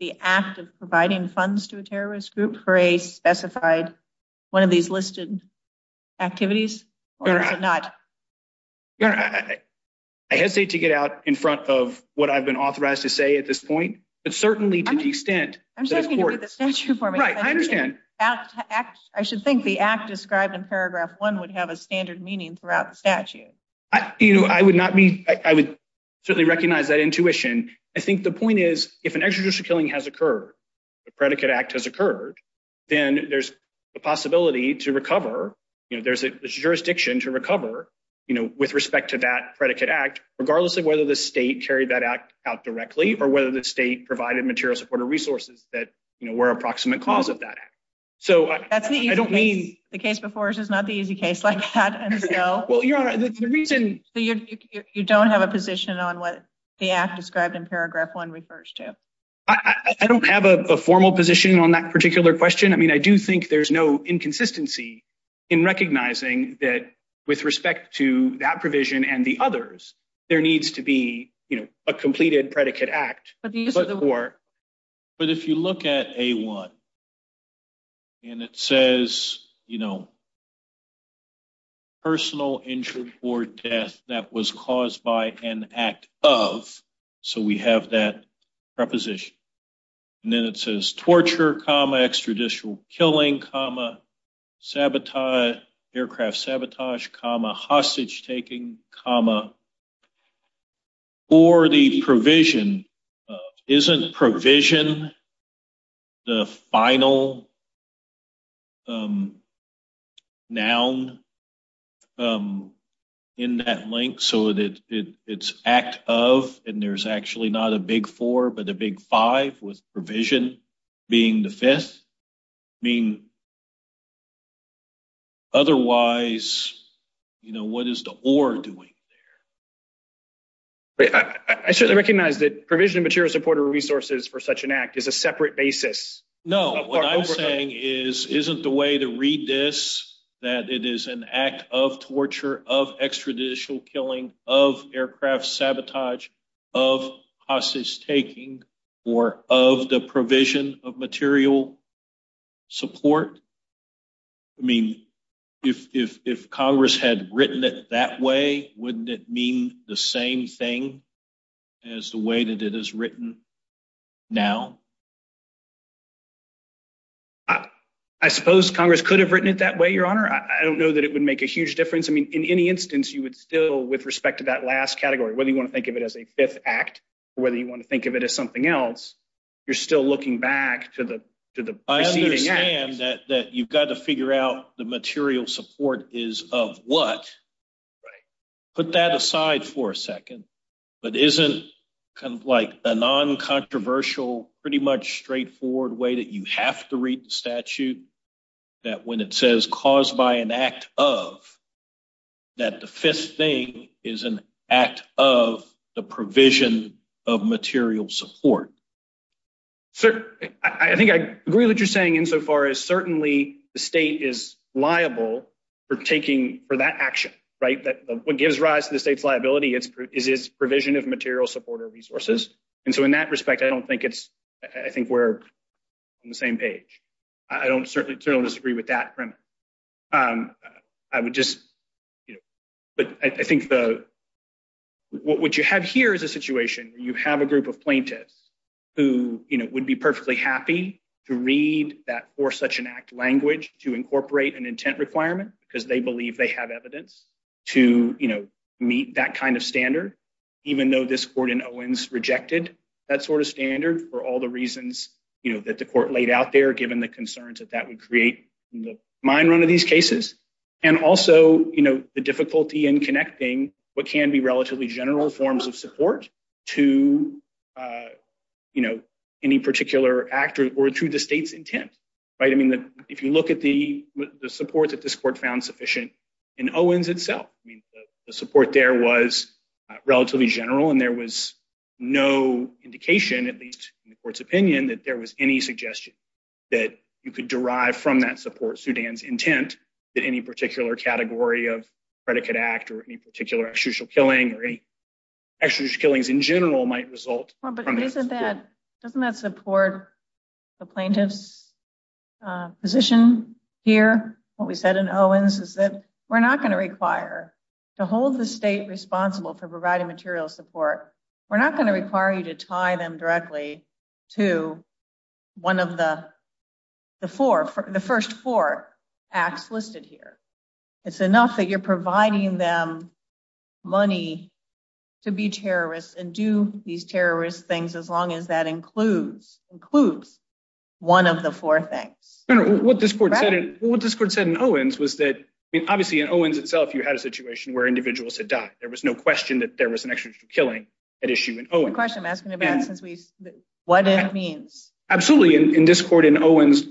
the act of providing funds to a terrorist group for a specified, one of these listed activities or not? Your honor, I hesitate to get out in front of what I've been authorized to say at this point, but certainly to the extent- I'm just talking about the statute for me. Right, I understand. I should think the act described in paragraph one would have a standard meaning throughout the statute. You know, I would not be, I would certainly recognize that intuition. I think the point is, if an extrajudicial killing has occurred, the predicate act has occurred, then there's a possibility to recover, you know, there's a jurisdiction to recover, you know, with respect to that predicate act, regardless of whether the state carried that act out directly, or whether the state provided material support or resources that, you know, were a proximate cause of that act. So I don't mean- The case before us is not the easy case like that, and so- Well, your honor, the reason- So you don't have a position on what the act described in paragraph one refers to? I don't have a formal position on that particular question. I mean, I do think there's no inconsistency in recognizing that with respect to that provision and the others, there needs to be, you know, a completed predicate act. But if you look at A1, and it says, you know, personal injury or death that was caused by an act of, so we have that preposition. And then it says torture, comma, extrajudicial killing, comma, sabotage, aircraft sabotage, comma, hostage taking, comma. For the provision, isn't provision the final noun in that link? So it's act of, and there's actually not a big four, but a big five with provision being the fifth. I mean, otherwise, you know, what is the or doing there? But I recognize that provision of material support or resources for such an act is a separate basis. No, what I'm saying is, isn't the way to read this, that it is an act of torture, of extrajudicial killing, of aircraft sabotage, of hostage taking, or of the provision of material support. I mean, if Congress had written it that way, wouldn't it mean the same thing as the way that it is written now? I suppose Congress could have written it that way, Your Honor. I don't know that it would make a huge difference. I mean, in any instance, you would still, with respect to that last category, whether you want to think of it as a fifth act, or whether you want to think of it as something else, you're still looking back to the- I understand that you've got to figure out the material support is of what. Put that aside for a second. But isn't kind of like a non-controversial, pretty much straightforward way that you have to read the statute, that when it says caused by an act of, that the fifth thing is an act of the provision of material support? I think I agree with what you're saying insofar as certainly the state is liable for taking for that action, right? That what gives rise to the state's liability is its provision of material support or resources. And so in that respect, I don't think it's, I think we're on the same page. I don't certainly disagree with that. I would just, but I think what you have here is a situation where you have a group of plaintiffs who would be perfectly happy to read that for such an act language to incorporate an intent requirement because they believe they have evidence to meet that kind of standard, even though this court in Owens rejected that sort of standard for all the reasons that the court laid out there, given the concerns that that would create mind run of these cases. And also the difficulty in connecting what can be relatively general forms of support to any particular actor or to the state's intent, right? I mean, if you look at the support that this court found sufficient in Owens itself, I mean, the support there was relatively general and there was no indication, at least in the court's opinion, that there was any suggestion that you could derive from that support Sudan's intent that any particular category of predicate act or any particular extraditional killing extraditional killings in general might result. Well, but isn't that, doesn't that support the plaintiff's position here? What we said in Owens is that we're not going to require to hold the state responsible for providing material support. We're not going to require you to tie them directly to one of the four, the first four acts listed here. It's enough that you're providing them money to be terrorists and do these terrorist things as long as that includes one of the four things. What this court said in Owens was that obviously in Owens itself, you had a situation where individuals had died. There was no question that there was an extraditional killing at issue in Owens. Question asking about what it means. Absolutely, in this court in Owens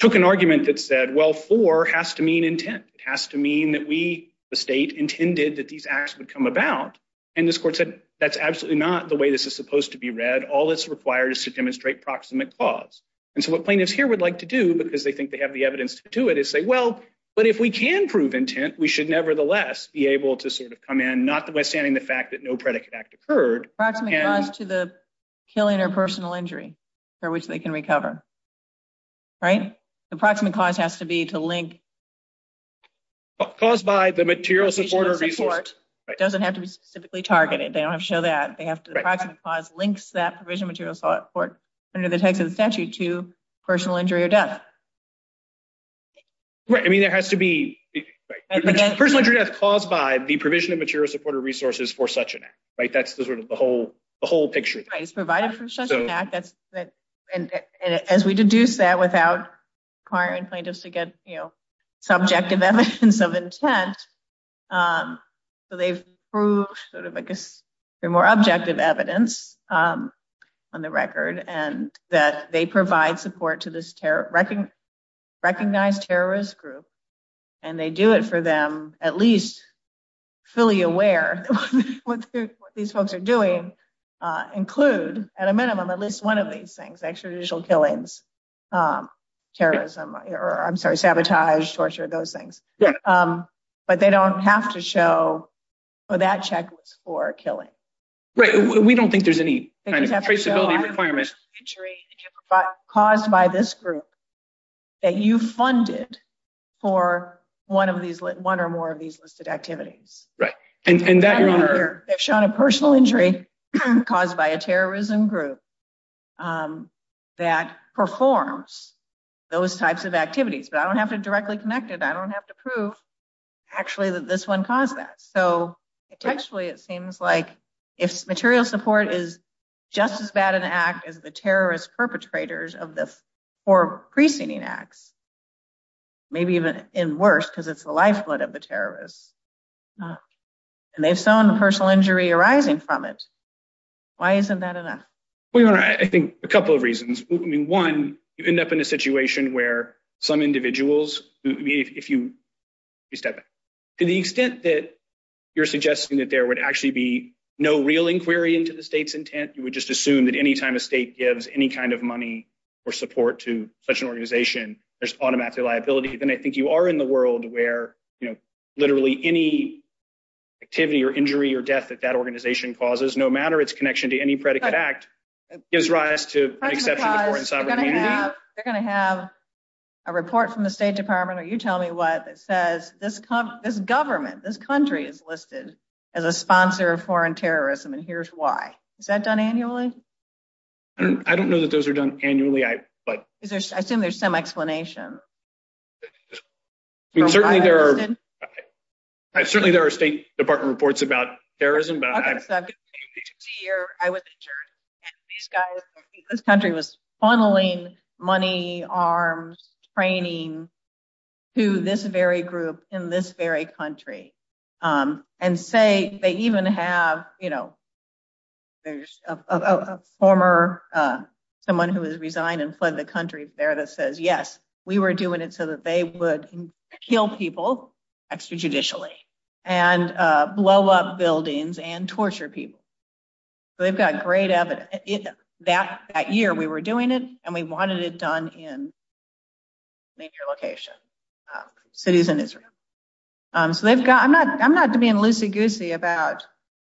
took an argument that said, well, four has to mean intent. It has to mean that we, the state intended that these acts would come about. And this court said, that's absolutely not the way this is supposed to be read. All that's required is to demonstrate proximate cause. And so what plaintiffs here would like to do because they think they have the evidence to do it is say, well, but if we can prove intent, we should nevertheless be able to sort of come in, notwithstanding the fact that no predicate act occurred. Proximate cause to the killing or personal injury for which they can recover. Right? The proximate cause has to be to link- Caused by the material supporter resource. Doesn't have to be specifically targeted. They don't have to show that. They have to link that provision material support under the text of the statute to personal injury or death. Right. I mean, there has to be personal injury that's caused by the provision of material supporter resources for such an act. Right. That's the sort of the whole, the whole picture. Right. Provided for such an act. And as we deduce that without client and plaintiffs to get, you know, subjective evidence of intent. So they've proved sort of a more objective evidence on the record. And that they provide support to this recognized terrorist group. And they do it for them, at least fully aware what these folks are doing. Include at a minimum, at least one of these things, extrajudicial killings, terrorism, or I'm sorry, sabotage, torture, those things. But they don't have to show for that checklist for killing. Right. We don't think there's any caused by this group that you've funded for one of these, one or more of these listed activities. Right. And that, they've shown a personal injury caused by a terrorism group that performs those types of activities. But I don't have to directly connect it. I don't have to prove actually that this one caused that. So potentially it seems like if material support is just as bad an act as the terrorist perpetrators of the four preceding acts, maybe even in worse because it's the lifeblood of the terrorists. And they've shown the personal injury arising from it. Why isn't that enough? I think a couple of reasons. One, you end up in a situation where some individuals, if you, to the extent that you're suggesting that there would actually be no real inquiry into the state's intent, you would just assume that anytime a state gives any kind of money or support to such an organization, there's automatically liabilities. And I think you are in the world where, you know, literally any activity or injury or death that that organization causes, no matter its connection to any predicate act, gives rise to an acceptance of foreign sovereignty. They're going to have a report from the State Department, or you tell me what, that says this government, this country is listed as a sponsor of foreign terrorism. And here's why. Is that done annually? I don't know that those are done annually. I think there's some explanation. Certainly there are State Department reports about terrorism, but this country was funneling money, arms, training, to this very group in this very country. And say they even have, you know, there's a former, someone who has resigned and fled the country there that says, yes, we were doing it so that they would kill people, extrajudicially, and blow up buildings and torture people. So they've got great evidence. That year we were doing it, and we wanted it done in major locations, cities in Israel. So they've got, I'm not being loosey-goosey about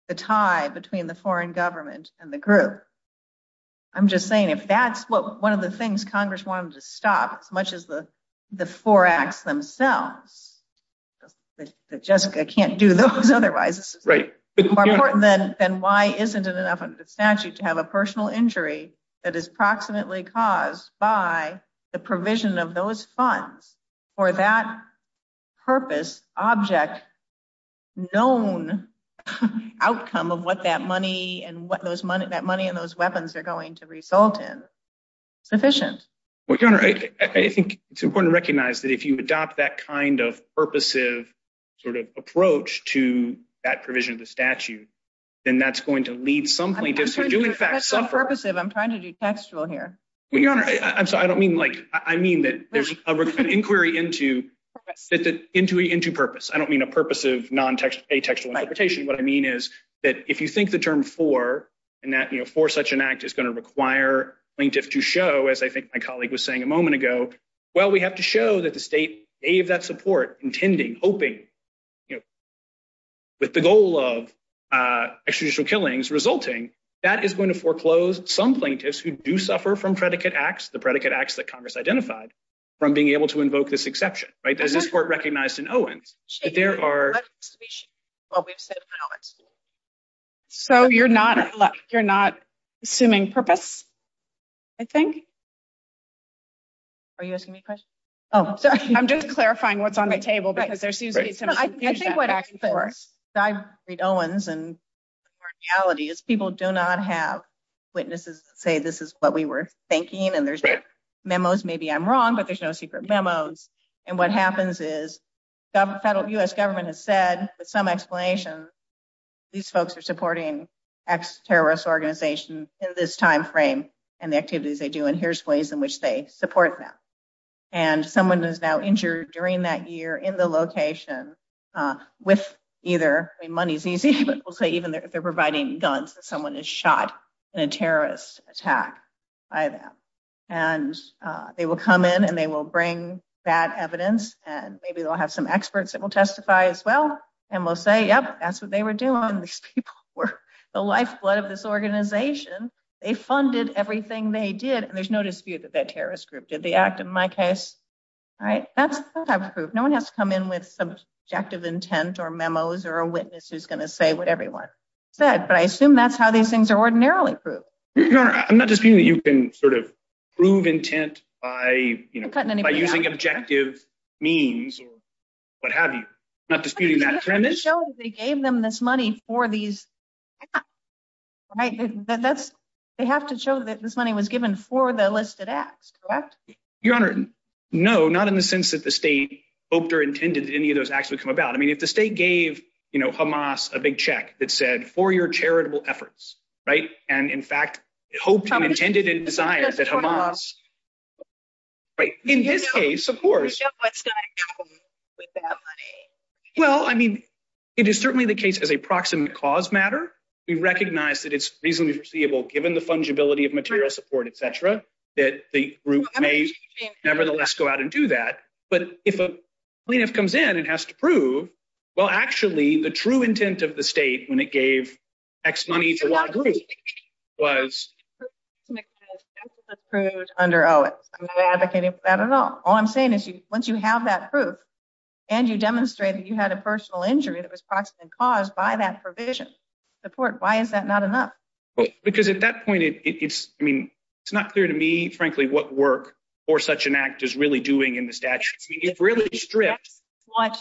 the tie between the foreign government and the group. I'm just saying, if that's one of the things Congress wanted to stop, as much as the four acts themselves, Jessica can't do those otherwise. It's more important than why isn't it enough of a statute to have a personal injury that is proximately caused by the provision of those funds for that purpose, object, known outcome of what that money and what those money, that money and those weapons are going to result in. It's sufficient. Well, I think it's important to recognize that if you adopt that kind of purposive sort of approach to that provision of the statute, then that's going to lead some plaintiffs to do in fact- That's purposive. I'm trying to be textual here. Well, Your Honor, I'm sorry. I don't mean like, I mean that there's an inquiry into purpose. I don't mean a purpose of a textual interpretation. What I mean is that if you think the term for, and that for such an act is going to require plaintiffs was saying a moment ago, well, we have to show that the state gave that support, intending, hoping, with the goal of extraditional killings resulting, that is going to foreclose some plaintiffs who do suffer from predicate acts, the predicate acts that Congress identified from being able to invoke this exception, right? There's this court recognized in Owen, that there are- Let's speak while we save hours. So you're not, you're not assuming purpose, I think? Are you asking me a question? Oh, I'm just clarifying what's on my table. Because there's these- I think what I can say, I read Owens, and our reality is people do not have witnesses say this is what we were thinking, and there's no memos. Maybe I'm wrong, but there's no secret memos. And what happens is, US government has said, with some explanation, these folks are supporting ex-terrorist organizations in this timeframe, and the activities they do, and here's ways in which they support them. And someone is now injured during that year, in the location, with either, I mean money's easy, but we'll say even if they're providing guns, someone is shot in a terrorist attack by them. And they will come in, and they will bring that evidence, and maybe they'll have some experts that will testify as well, and will say, yep, that's what they were doing. These people were the lifeblood of this organization. They funded everything they did, and there's no dispute that that terrorist group did the act in my case. All right, that's what I've proved. No one has to come in with objective intent, or memos, or a witness who's going to say what everyone said, but I assume that's how these things are ordinarily proved. Your Honor, I'm not disputing that you can sort of prove intent by, you know, by using objective means, or what have you. I'm not disputing that. They gave them this money for these, right? They have to show that this money was given for the listed acts, correct? Your Honor, no, not in the sense that the state hoped or intended any of those acts would come about. I mean, if the state gave, you know, Hamas a big check that said, for your charitable efforts, right, and in fact, hoped, intended, and designed that Hamas, right, in this case, of course. Well, I mean, it is certainly the case as a proximate cause matter. We recognize that it's reasonably foreseeable, given the fungibility of material support, et cetera, that the group may nevertheless go out and do that. But if a plaintiff comes in and has to prove, well, actually, the true intent of the state when it gave X money to Y group was... The plaintiff says X is approved under O.A.C. I'm not advocating for that at all. All I'm saying is, once you have that proof and you demonstrate that you had a personal injury that was proximate cause by that provision, support, why is that not enough? Well, because at that point, it's, I mean, it's not clear to me, frankly, what work for such an act is really doing in the statute. It really restricts what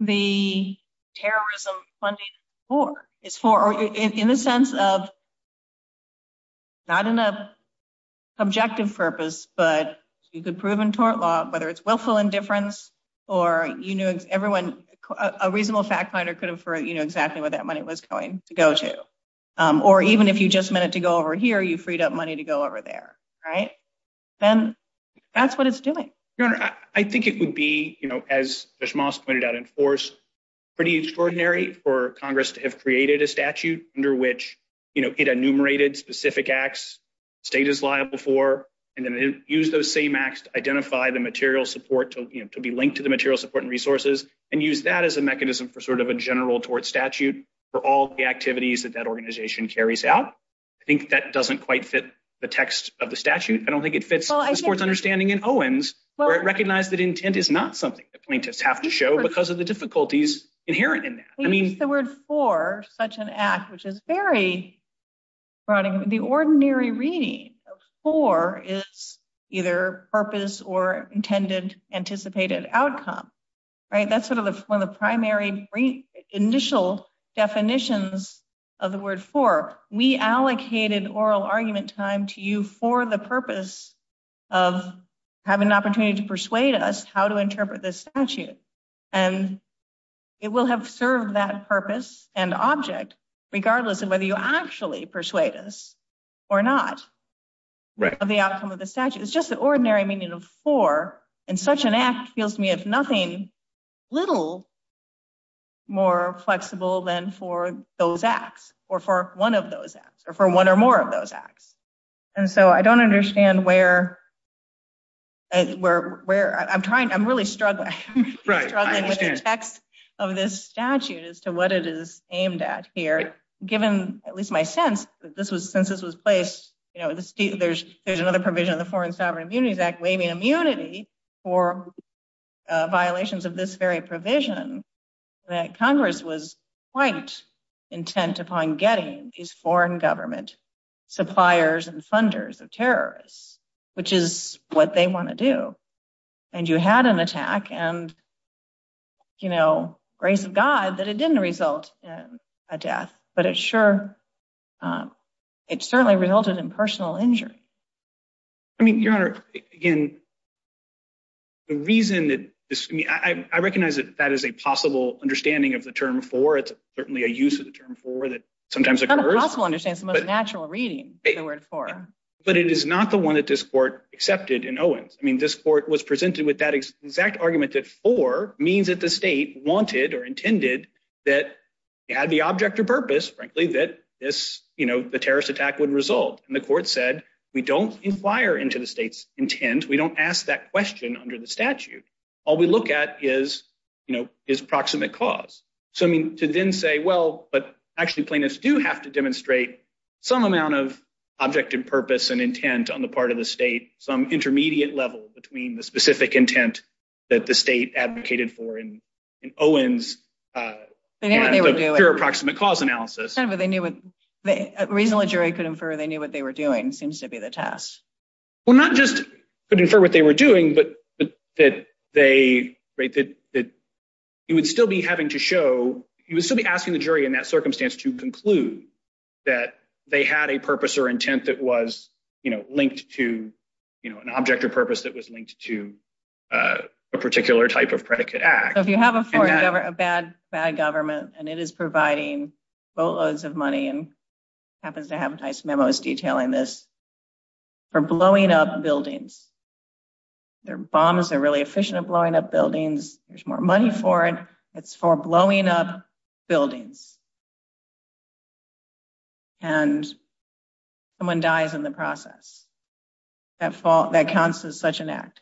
the terrorism funding is for. It's for, in the sense of, not in a subjective purpose, but you could prove in tort law, whether it's willful indifference or, you know, everyone, a reasonable fact finder could infer, you know, exactly where that money was going to go to. Or even if you just meant it to go over here, you freed up money to go over there, right? Then that's what it's doing. Your Honor, I think it would be, you know, as Ms. Moss pointed out, enforced, pretty extraordinary for Congress to have created a statute under which, you know, it enumerated specific acts, status law before, and then use those same acts to identify the material support to be linked to the material support and resources and use that as a mechanism for sort of a general tort statute for all the activities that that organization carries out. I think that doesn't quite fit the text of the statute. I don't think it fits the court's understanding in Owens where it recognized that intent is not something that plaintiffs have to show because of the difficulties inherent in that. I mean, the word for such an act, which is very broadening. The ordinary reading of for is either purpose or intended, anticipated outcome, right? That's sort of the primary, initial definitions of the word for. We allocated oral argument time to you for the purpose of having an opportunity to persuade us how to interpret this statute. And it will have served that purpose and object, regardless of whether you actually persuade us or not of the outcome of the statute. It's just the ordinary meaning of for and such an act feels to me as nothing little more flexible than for those acts or for one of those acts or for one or more of those acts. And so I don't understand where I'm trying. I'm really struggling. I'm struggling with the text of this statute as to what it is aimed at here, given at least my sense that since this was placed, you know, there's another provision of the Foreign Sovereign Immunities Act waiving immunity for violations of this very provision that Congress was quite intent upon getting these foreign government suppliers and funders of terrorists, which is what they want to do. And you had an attack and, you know, grace of God that it didn't result in a death, but it sure, it certainly resulted in personal injury. I mean, your Honor, again, the reason that this, I mean, I recognize that that is a possible understanding of the term for, it's certainly a use of the term for that sometimes occurs. It's not a possible understanding, it's a natural reading. But it is not the one that this court accepted in Owens. I mean, this court was presented with that exact argument that for means that the state wanted or intended that had the object or purpose, frankly, that this, you know, the terrorist attack would result. And the court said, we don't inquire into the state's intent. We don't ask that question under the statute. All we look at is, you know, is proximate cause. So, I mean, to then say, well, but actually plaintiffs do have to demonstrate some amount of object and purpose and intent on the part of the state, some intermediate level between the specific intent that the state advocated for in Owens' pure approximate cause analysis. But they knew what, reasonable jury could infer they knew what they were doing, seems to be the test. Well, not just could infer what they were doing, but that they, right, that you would still be having to show, you would still be asking the jury in that circumstance to conclude that they had a purpose or intent that was, you know, linked to, you know, an object of purpose that was linked to a particular type of predicate act. So if you have a bad government and it is providing boatloads of money and happens to have nice memos detailing this for blowing up buildings, their bombs are really efficient at blowing up buildings. There's more money for it. It's for blowing up buildings. And someone dies in the process. That counts as such an act.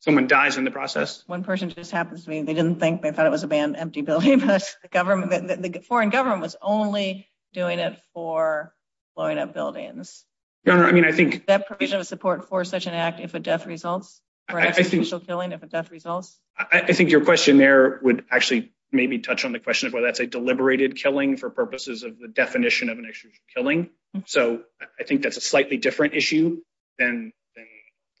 Someone dies in the process. One person just happens to be, they didn't think, they thought it was a bad, empty building, but the foreign government was only doing it for blowing up buildings. No, no, I mean, I think- That provision of support for such an act if a death results, for actual killing if a death results. I think your question there would actually make me touch on the question of whether that's a deliberated killing for purposes of the definition of an actual killing. So I think that's a slightly different issue than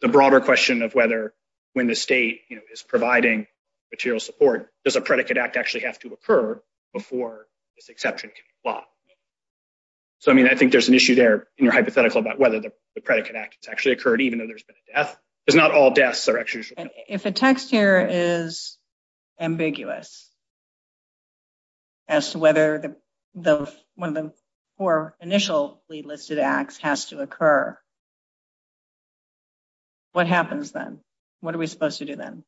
the broader question of whether when the state is providing material support, does a predicate act actually have to occur before this exception can be blocked? So, I mean, I think there's an issue there in your hypothetical about whether the predicate act has actually occurred, even though there's been a death. Because not all deaths are actually for killing. If the text here is ambiguous as to whether one of the four initially listed acts has to occur, what happens then? What are we supposed to do then?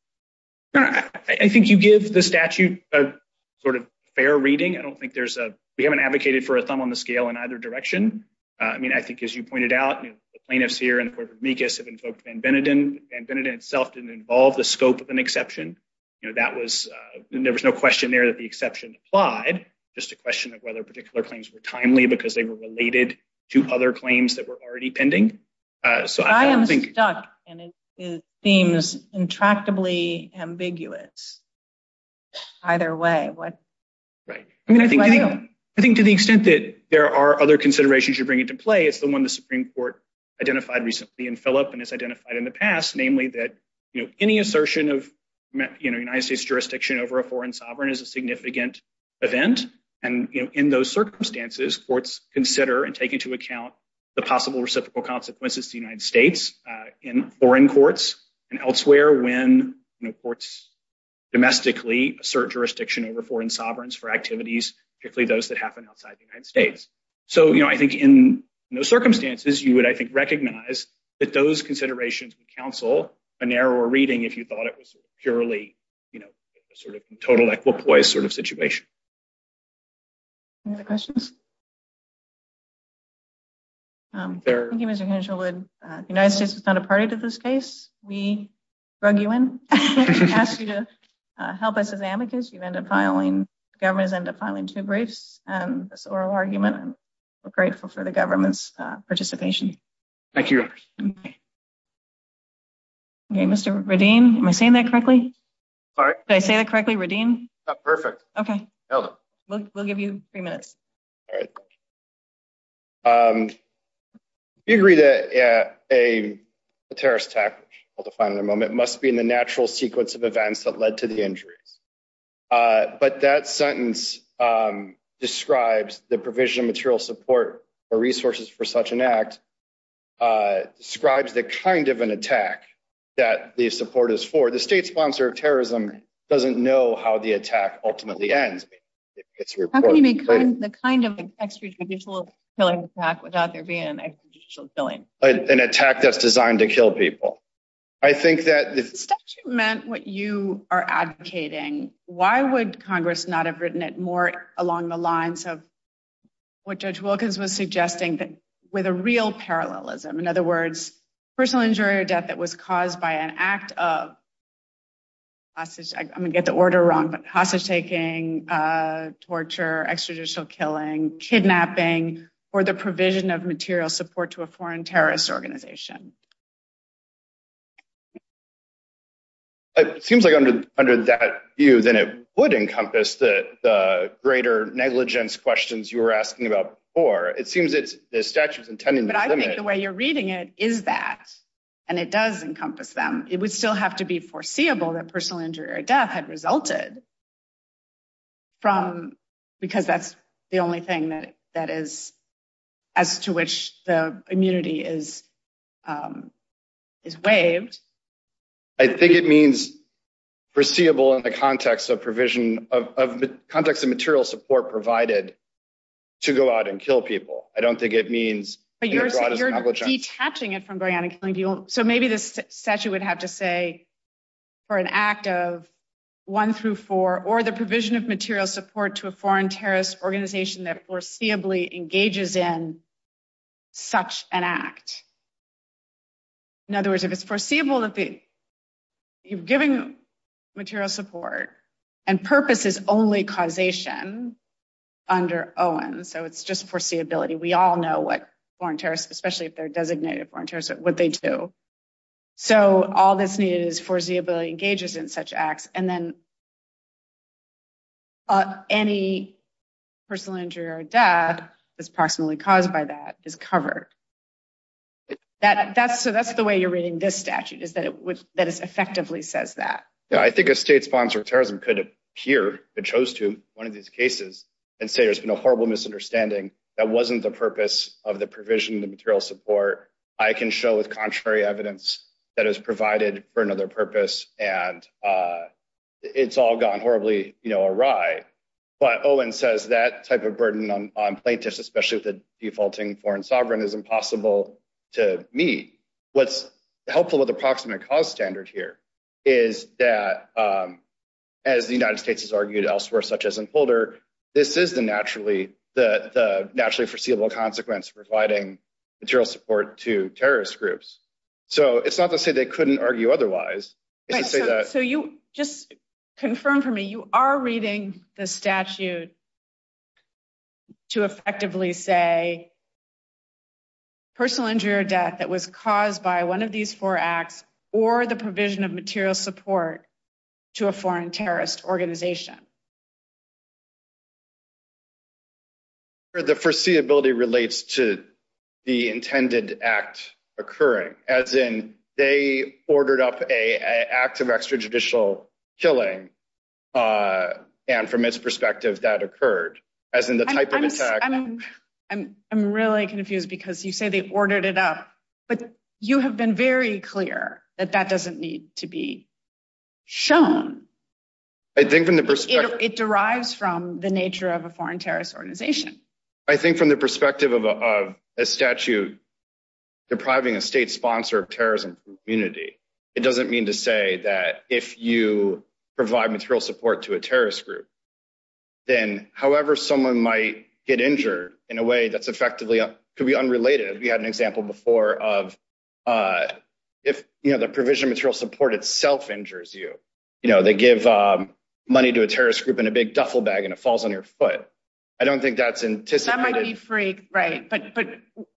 I think you give the statute a sort of fair reading. I don't think there's a- We haven't advocated for a thumb on the scale in either direction. I mean, I think as you pointed out, the plaintiffs here in the Court of Amicus have invoked Van Vennenden. Van Vennenden itself didn't involve the scope of an exception. That was the notion of a fair reading. There was no question there that the exception applied. Just a question of whether particular claims were timely because they were related to other claims that were already pending. So, I don't think- I am stuck, and it seems intractably ambiguous. Either way, what do I do? I think to the extent that there are other considerations you bring into play, it's the one the Supreme Court identified recently in Philip and has identified in the past, namely that any assertion of United States jurisdiction over a foreign sovereign is a significant event. And in those circumstances, courts consider and take into account the possible reciprocal consequences to the United States in foreign courts and elsewhere when courts domestically assert jurisdiction over foreign sovereigns for activities, particularly those that happen outside the United States. So, I think in those circumstances, you would, I think, recognize that those considerations would counsel a narrower reading if you thought it was purely a sort of total equipoise sort of situation. Any other questions? Thank you, Mr. Hanselwood. The United States is not a party to this case. We brought you in. We asked you to help us as advocates. You ended up filing- governments ended up filing two briefs. And this oral argument, we're grateful for the government's participation. Thank you, Your Honor. Okay, Mr. Radin, am I saying that correctly? Did I say that correctly, Radin? Perfect. Okay. We'll give you three minutes. You agree that a terrorist attack, we'll define in a moment, must be in the natural sequence of events that led to the injury. But that sentence describes the provision of material support or resources for such an act, describes the kind of an attack that the support is for. The state sponsor of terrorism doesn't know how the attack ultimately ends. The kind of an extrajudicial killing attack without there being an extrajudicial killing. An attack that's designed to kill people. I think that- If that's what you are advocating, why would Congress not have written it more along the lines of what Judge Wilkins was suggesting, with a real parallelism? In other words, personal injury or death that was caused by an act of hostage- I'm going to get the order wrong, but hostage taking, torture, extrajudicial killing, kidnapping, or the provision of material support to a foreign terrorist organization. It seems like under that view, then it would encompass the greater negligence questions you were asking about before. It seems that the statute is intending to limit- But I think the way you're reading it is that. And it does encompass them. It would still have to be foreseeable that personal injury or death had resulted because that's the only thing that is- as to which the immunity is waived. I think it means foreseeable in the context of provision, context of material support provided to go out and kill people. I don't think it means- But you're detaching it from bionic killing. So maybe the statute would have to say for an act of one through four, or the provision of material support to a foreign terrorist organization that foreseeably engages in such an act. In other words, if it's foreseeable that the- you've given material support and purpose is only causation under Owen. So it's just foreseeability. We all know what foreign terrorists, especially if they're designated foreign terrorists, what they do. So all that's needed is foreseeability engages in such acts. And then any personal injury or death that's possibly caused by that is covered. That's the way you're reading this statute is that it effectively says that. Yeah, I think a state sponsor of terrorism could appear, if it chose to, one of these cases and say there's been a horrible misunderstanding that wasn't the purpose of the provision of the material support. I can show with contrary evidence that is provided for another purpose. And it's all gone horribly awry. But Owen says that type of burden on plaintiffs, especially if the defaulting foreign sovereign is impossible to meet. What's helpful with approximate cause standard here is that as the United States has argued elsewhere, such as in Boulder, this is the naturally, the naturally foreseeable consequence providing material support to terrorist groups. So it's not to say they couldn't argue otherwise. So you just confirm for me, you are reading the statute to effectively say personal injury or death that was caused by one of these four acts or the provision of material support to a foreign terrorist organization. The foreseeability relates to the intended act occurring as in they ordered up an act of extrajudicial killing. And from its perspective that occurred as in the type of attack. I'm really confused because you say they ordered it up, but you have been very clear I think when the person, if the person is a terrorist, it derives from the nature of a foreign terrorist organization. I think from the perspective of a statute depriving a state sponsor of terrorism community, it doesn't mean to say that if you provide material support to a terrorist group, then however, someone might get injured in a way that's effectively could be unrelated. We had an example before of if the provision of material support itself injures you, they give money to a terrorist group and a big duffel bag and it falls on your foot. I don't think that's anticipated. That might be free, right. But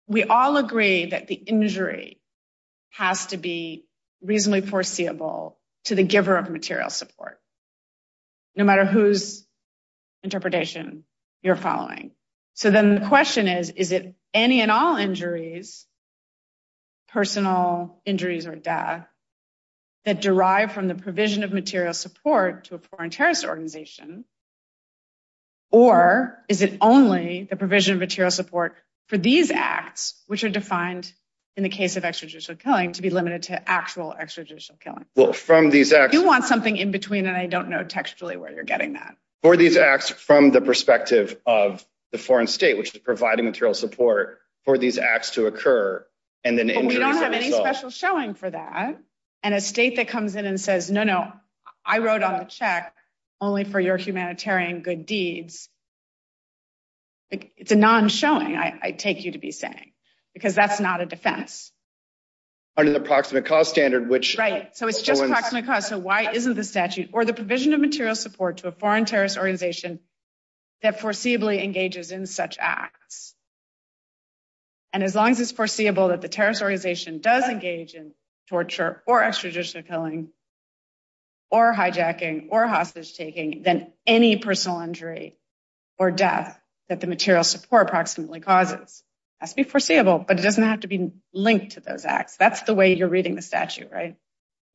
we all agree that the injury has to be reasonably foreseeable to the giver of material support. No matter whose interpretation you're following. So then the question is, is it any and all injuries, personal injuries or death that derive from the provision of material support to a foreign terrorist organization? Or is it only the provision of material support for these acts, which are defined in the case of extrajudicial killing to be limited to actual extrajudicial killing? Well, from these acts- You want something in between and I don't know textually where you're getting that. For these acts from the perspective of the foreign state, which is providing material support for these acts to occur and then- As long as there's any special showing for that and a state that comes in and says, no, no, I wrote on the check only for your humanitarian good deeds. It's a non-showing I take you to be saying because that's not a defense. Under the proximate cause standard, which- Right, so it's just approximate cause. So why isn't the statute or the provision of material support to a foreign terrorist organization that foreseeably engages in such acts? And as long as it's foreseeable that the terrorist organization does engage in torture or extrajudicial killing or hijacking or hostage taking than any personal injury or death that the material support approximately causes. It has to be foreseeable, but it doesn't have to be linked to those acts. That's the way you're reading the statute, right?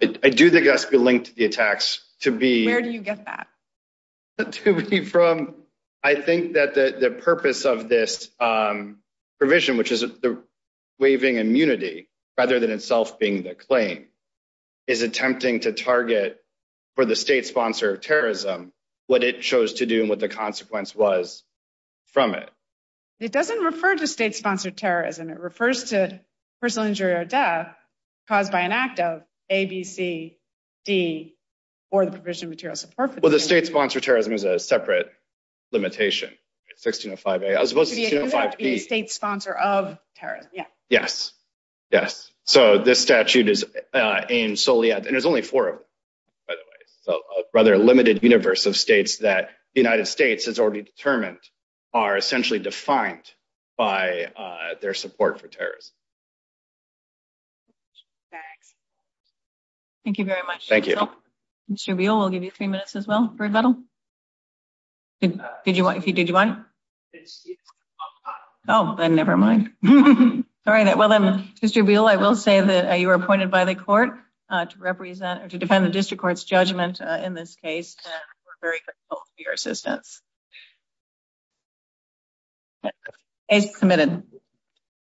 I do think it has to be linked to the attacks to be- Where do you get that? I think that the purpose of this provision, which is the waiving immunity rather than itself being the claim, is attempting to target for the state sponsor of terrorism what it chose to do and what the consequence was from it. It doesn't refer to state sponsor terrorism. It refers to personal injury or death caused by an act of A, B, C, D or the provision of material support. Well, the state sponsor of terrorism is a separate limitation, 16058. Because it has to be a state sponsor of terrorism, yeah. Yes, yes. So this statute is aimed solely at, and there's only four of them, by the way, so a rather limited universe of states that the United States has already determined are essentially defined by their support for terrorism. Okay. Thank you very much. Thank you. Mr. Beal, we'll give you three minutes as well for rebuttal. If you did you mind. Oh, then never mind. All right. Well then, Mr. Beal, I will say that you were appointed by the court to represent or to defend the district court's judgment in this case. And we're very grateful for your assistance. Case committed.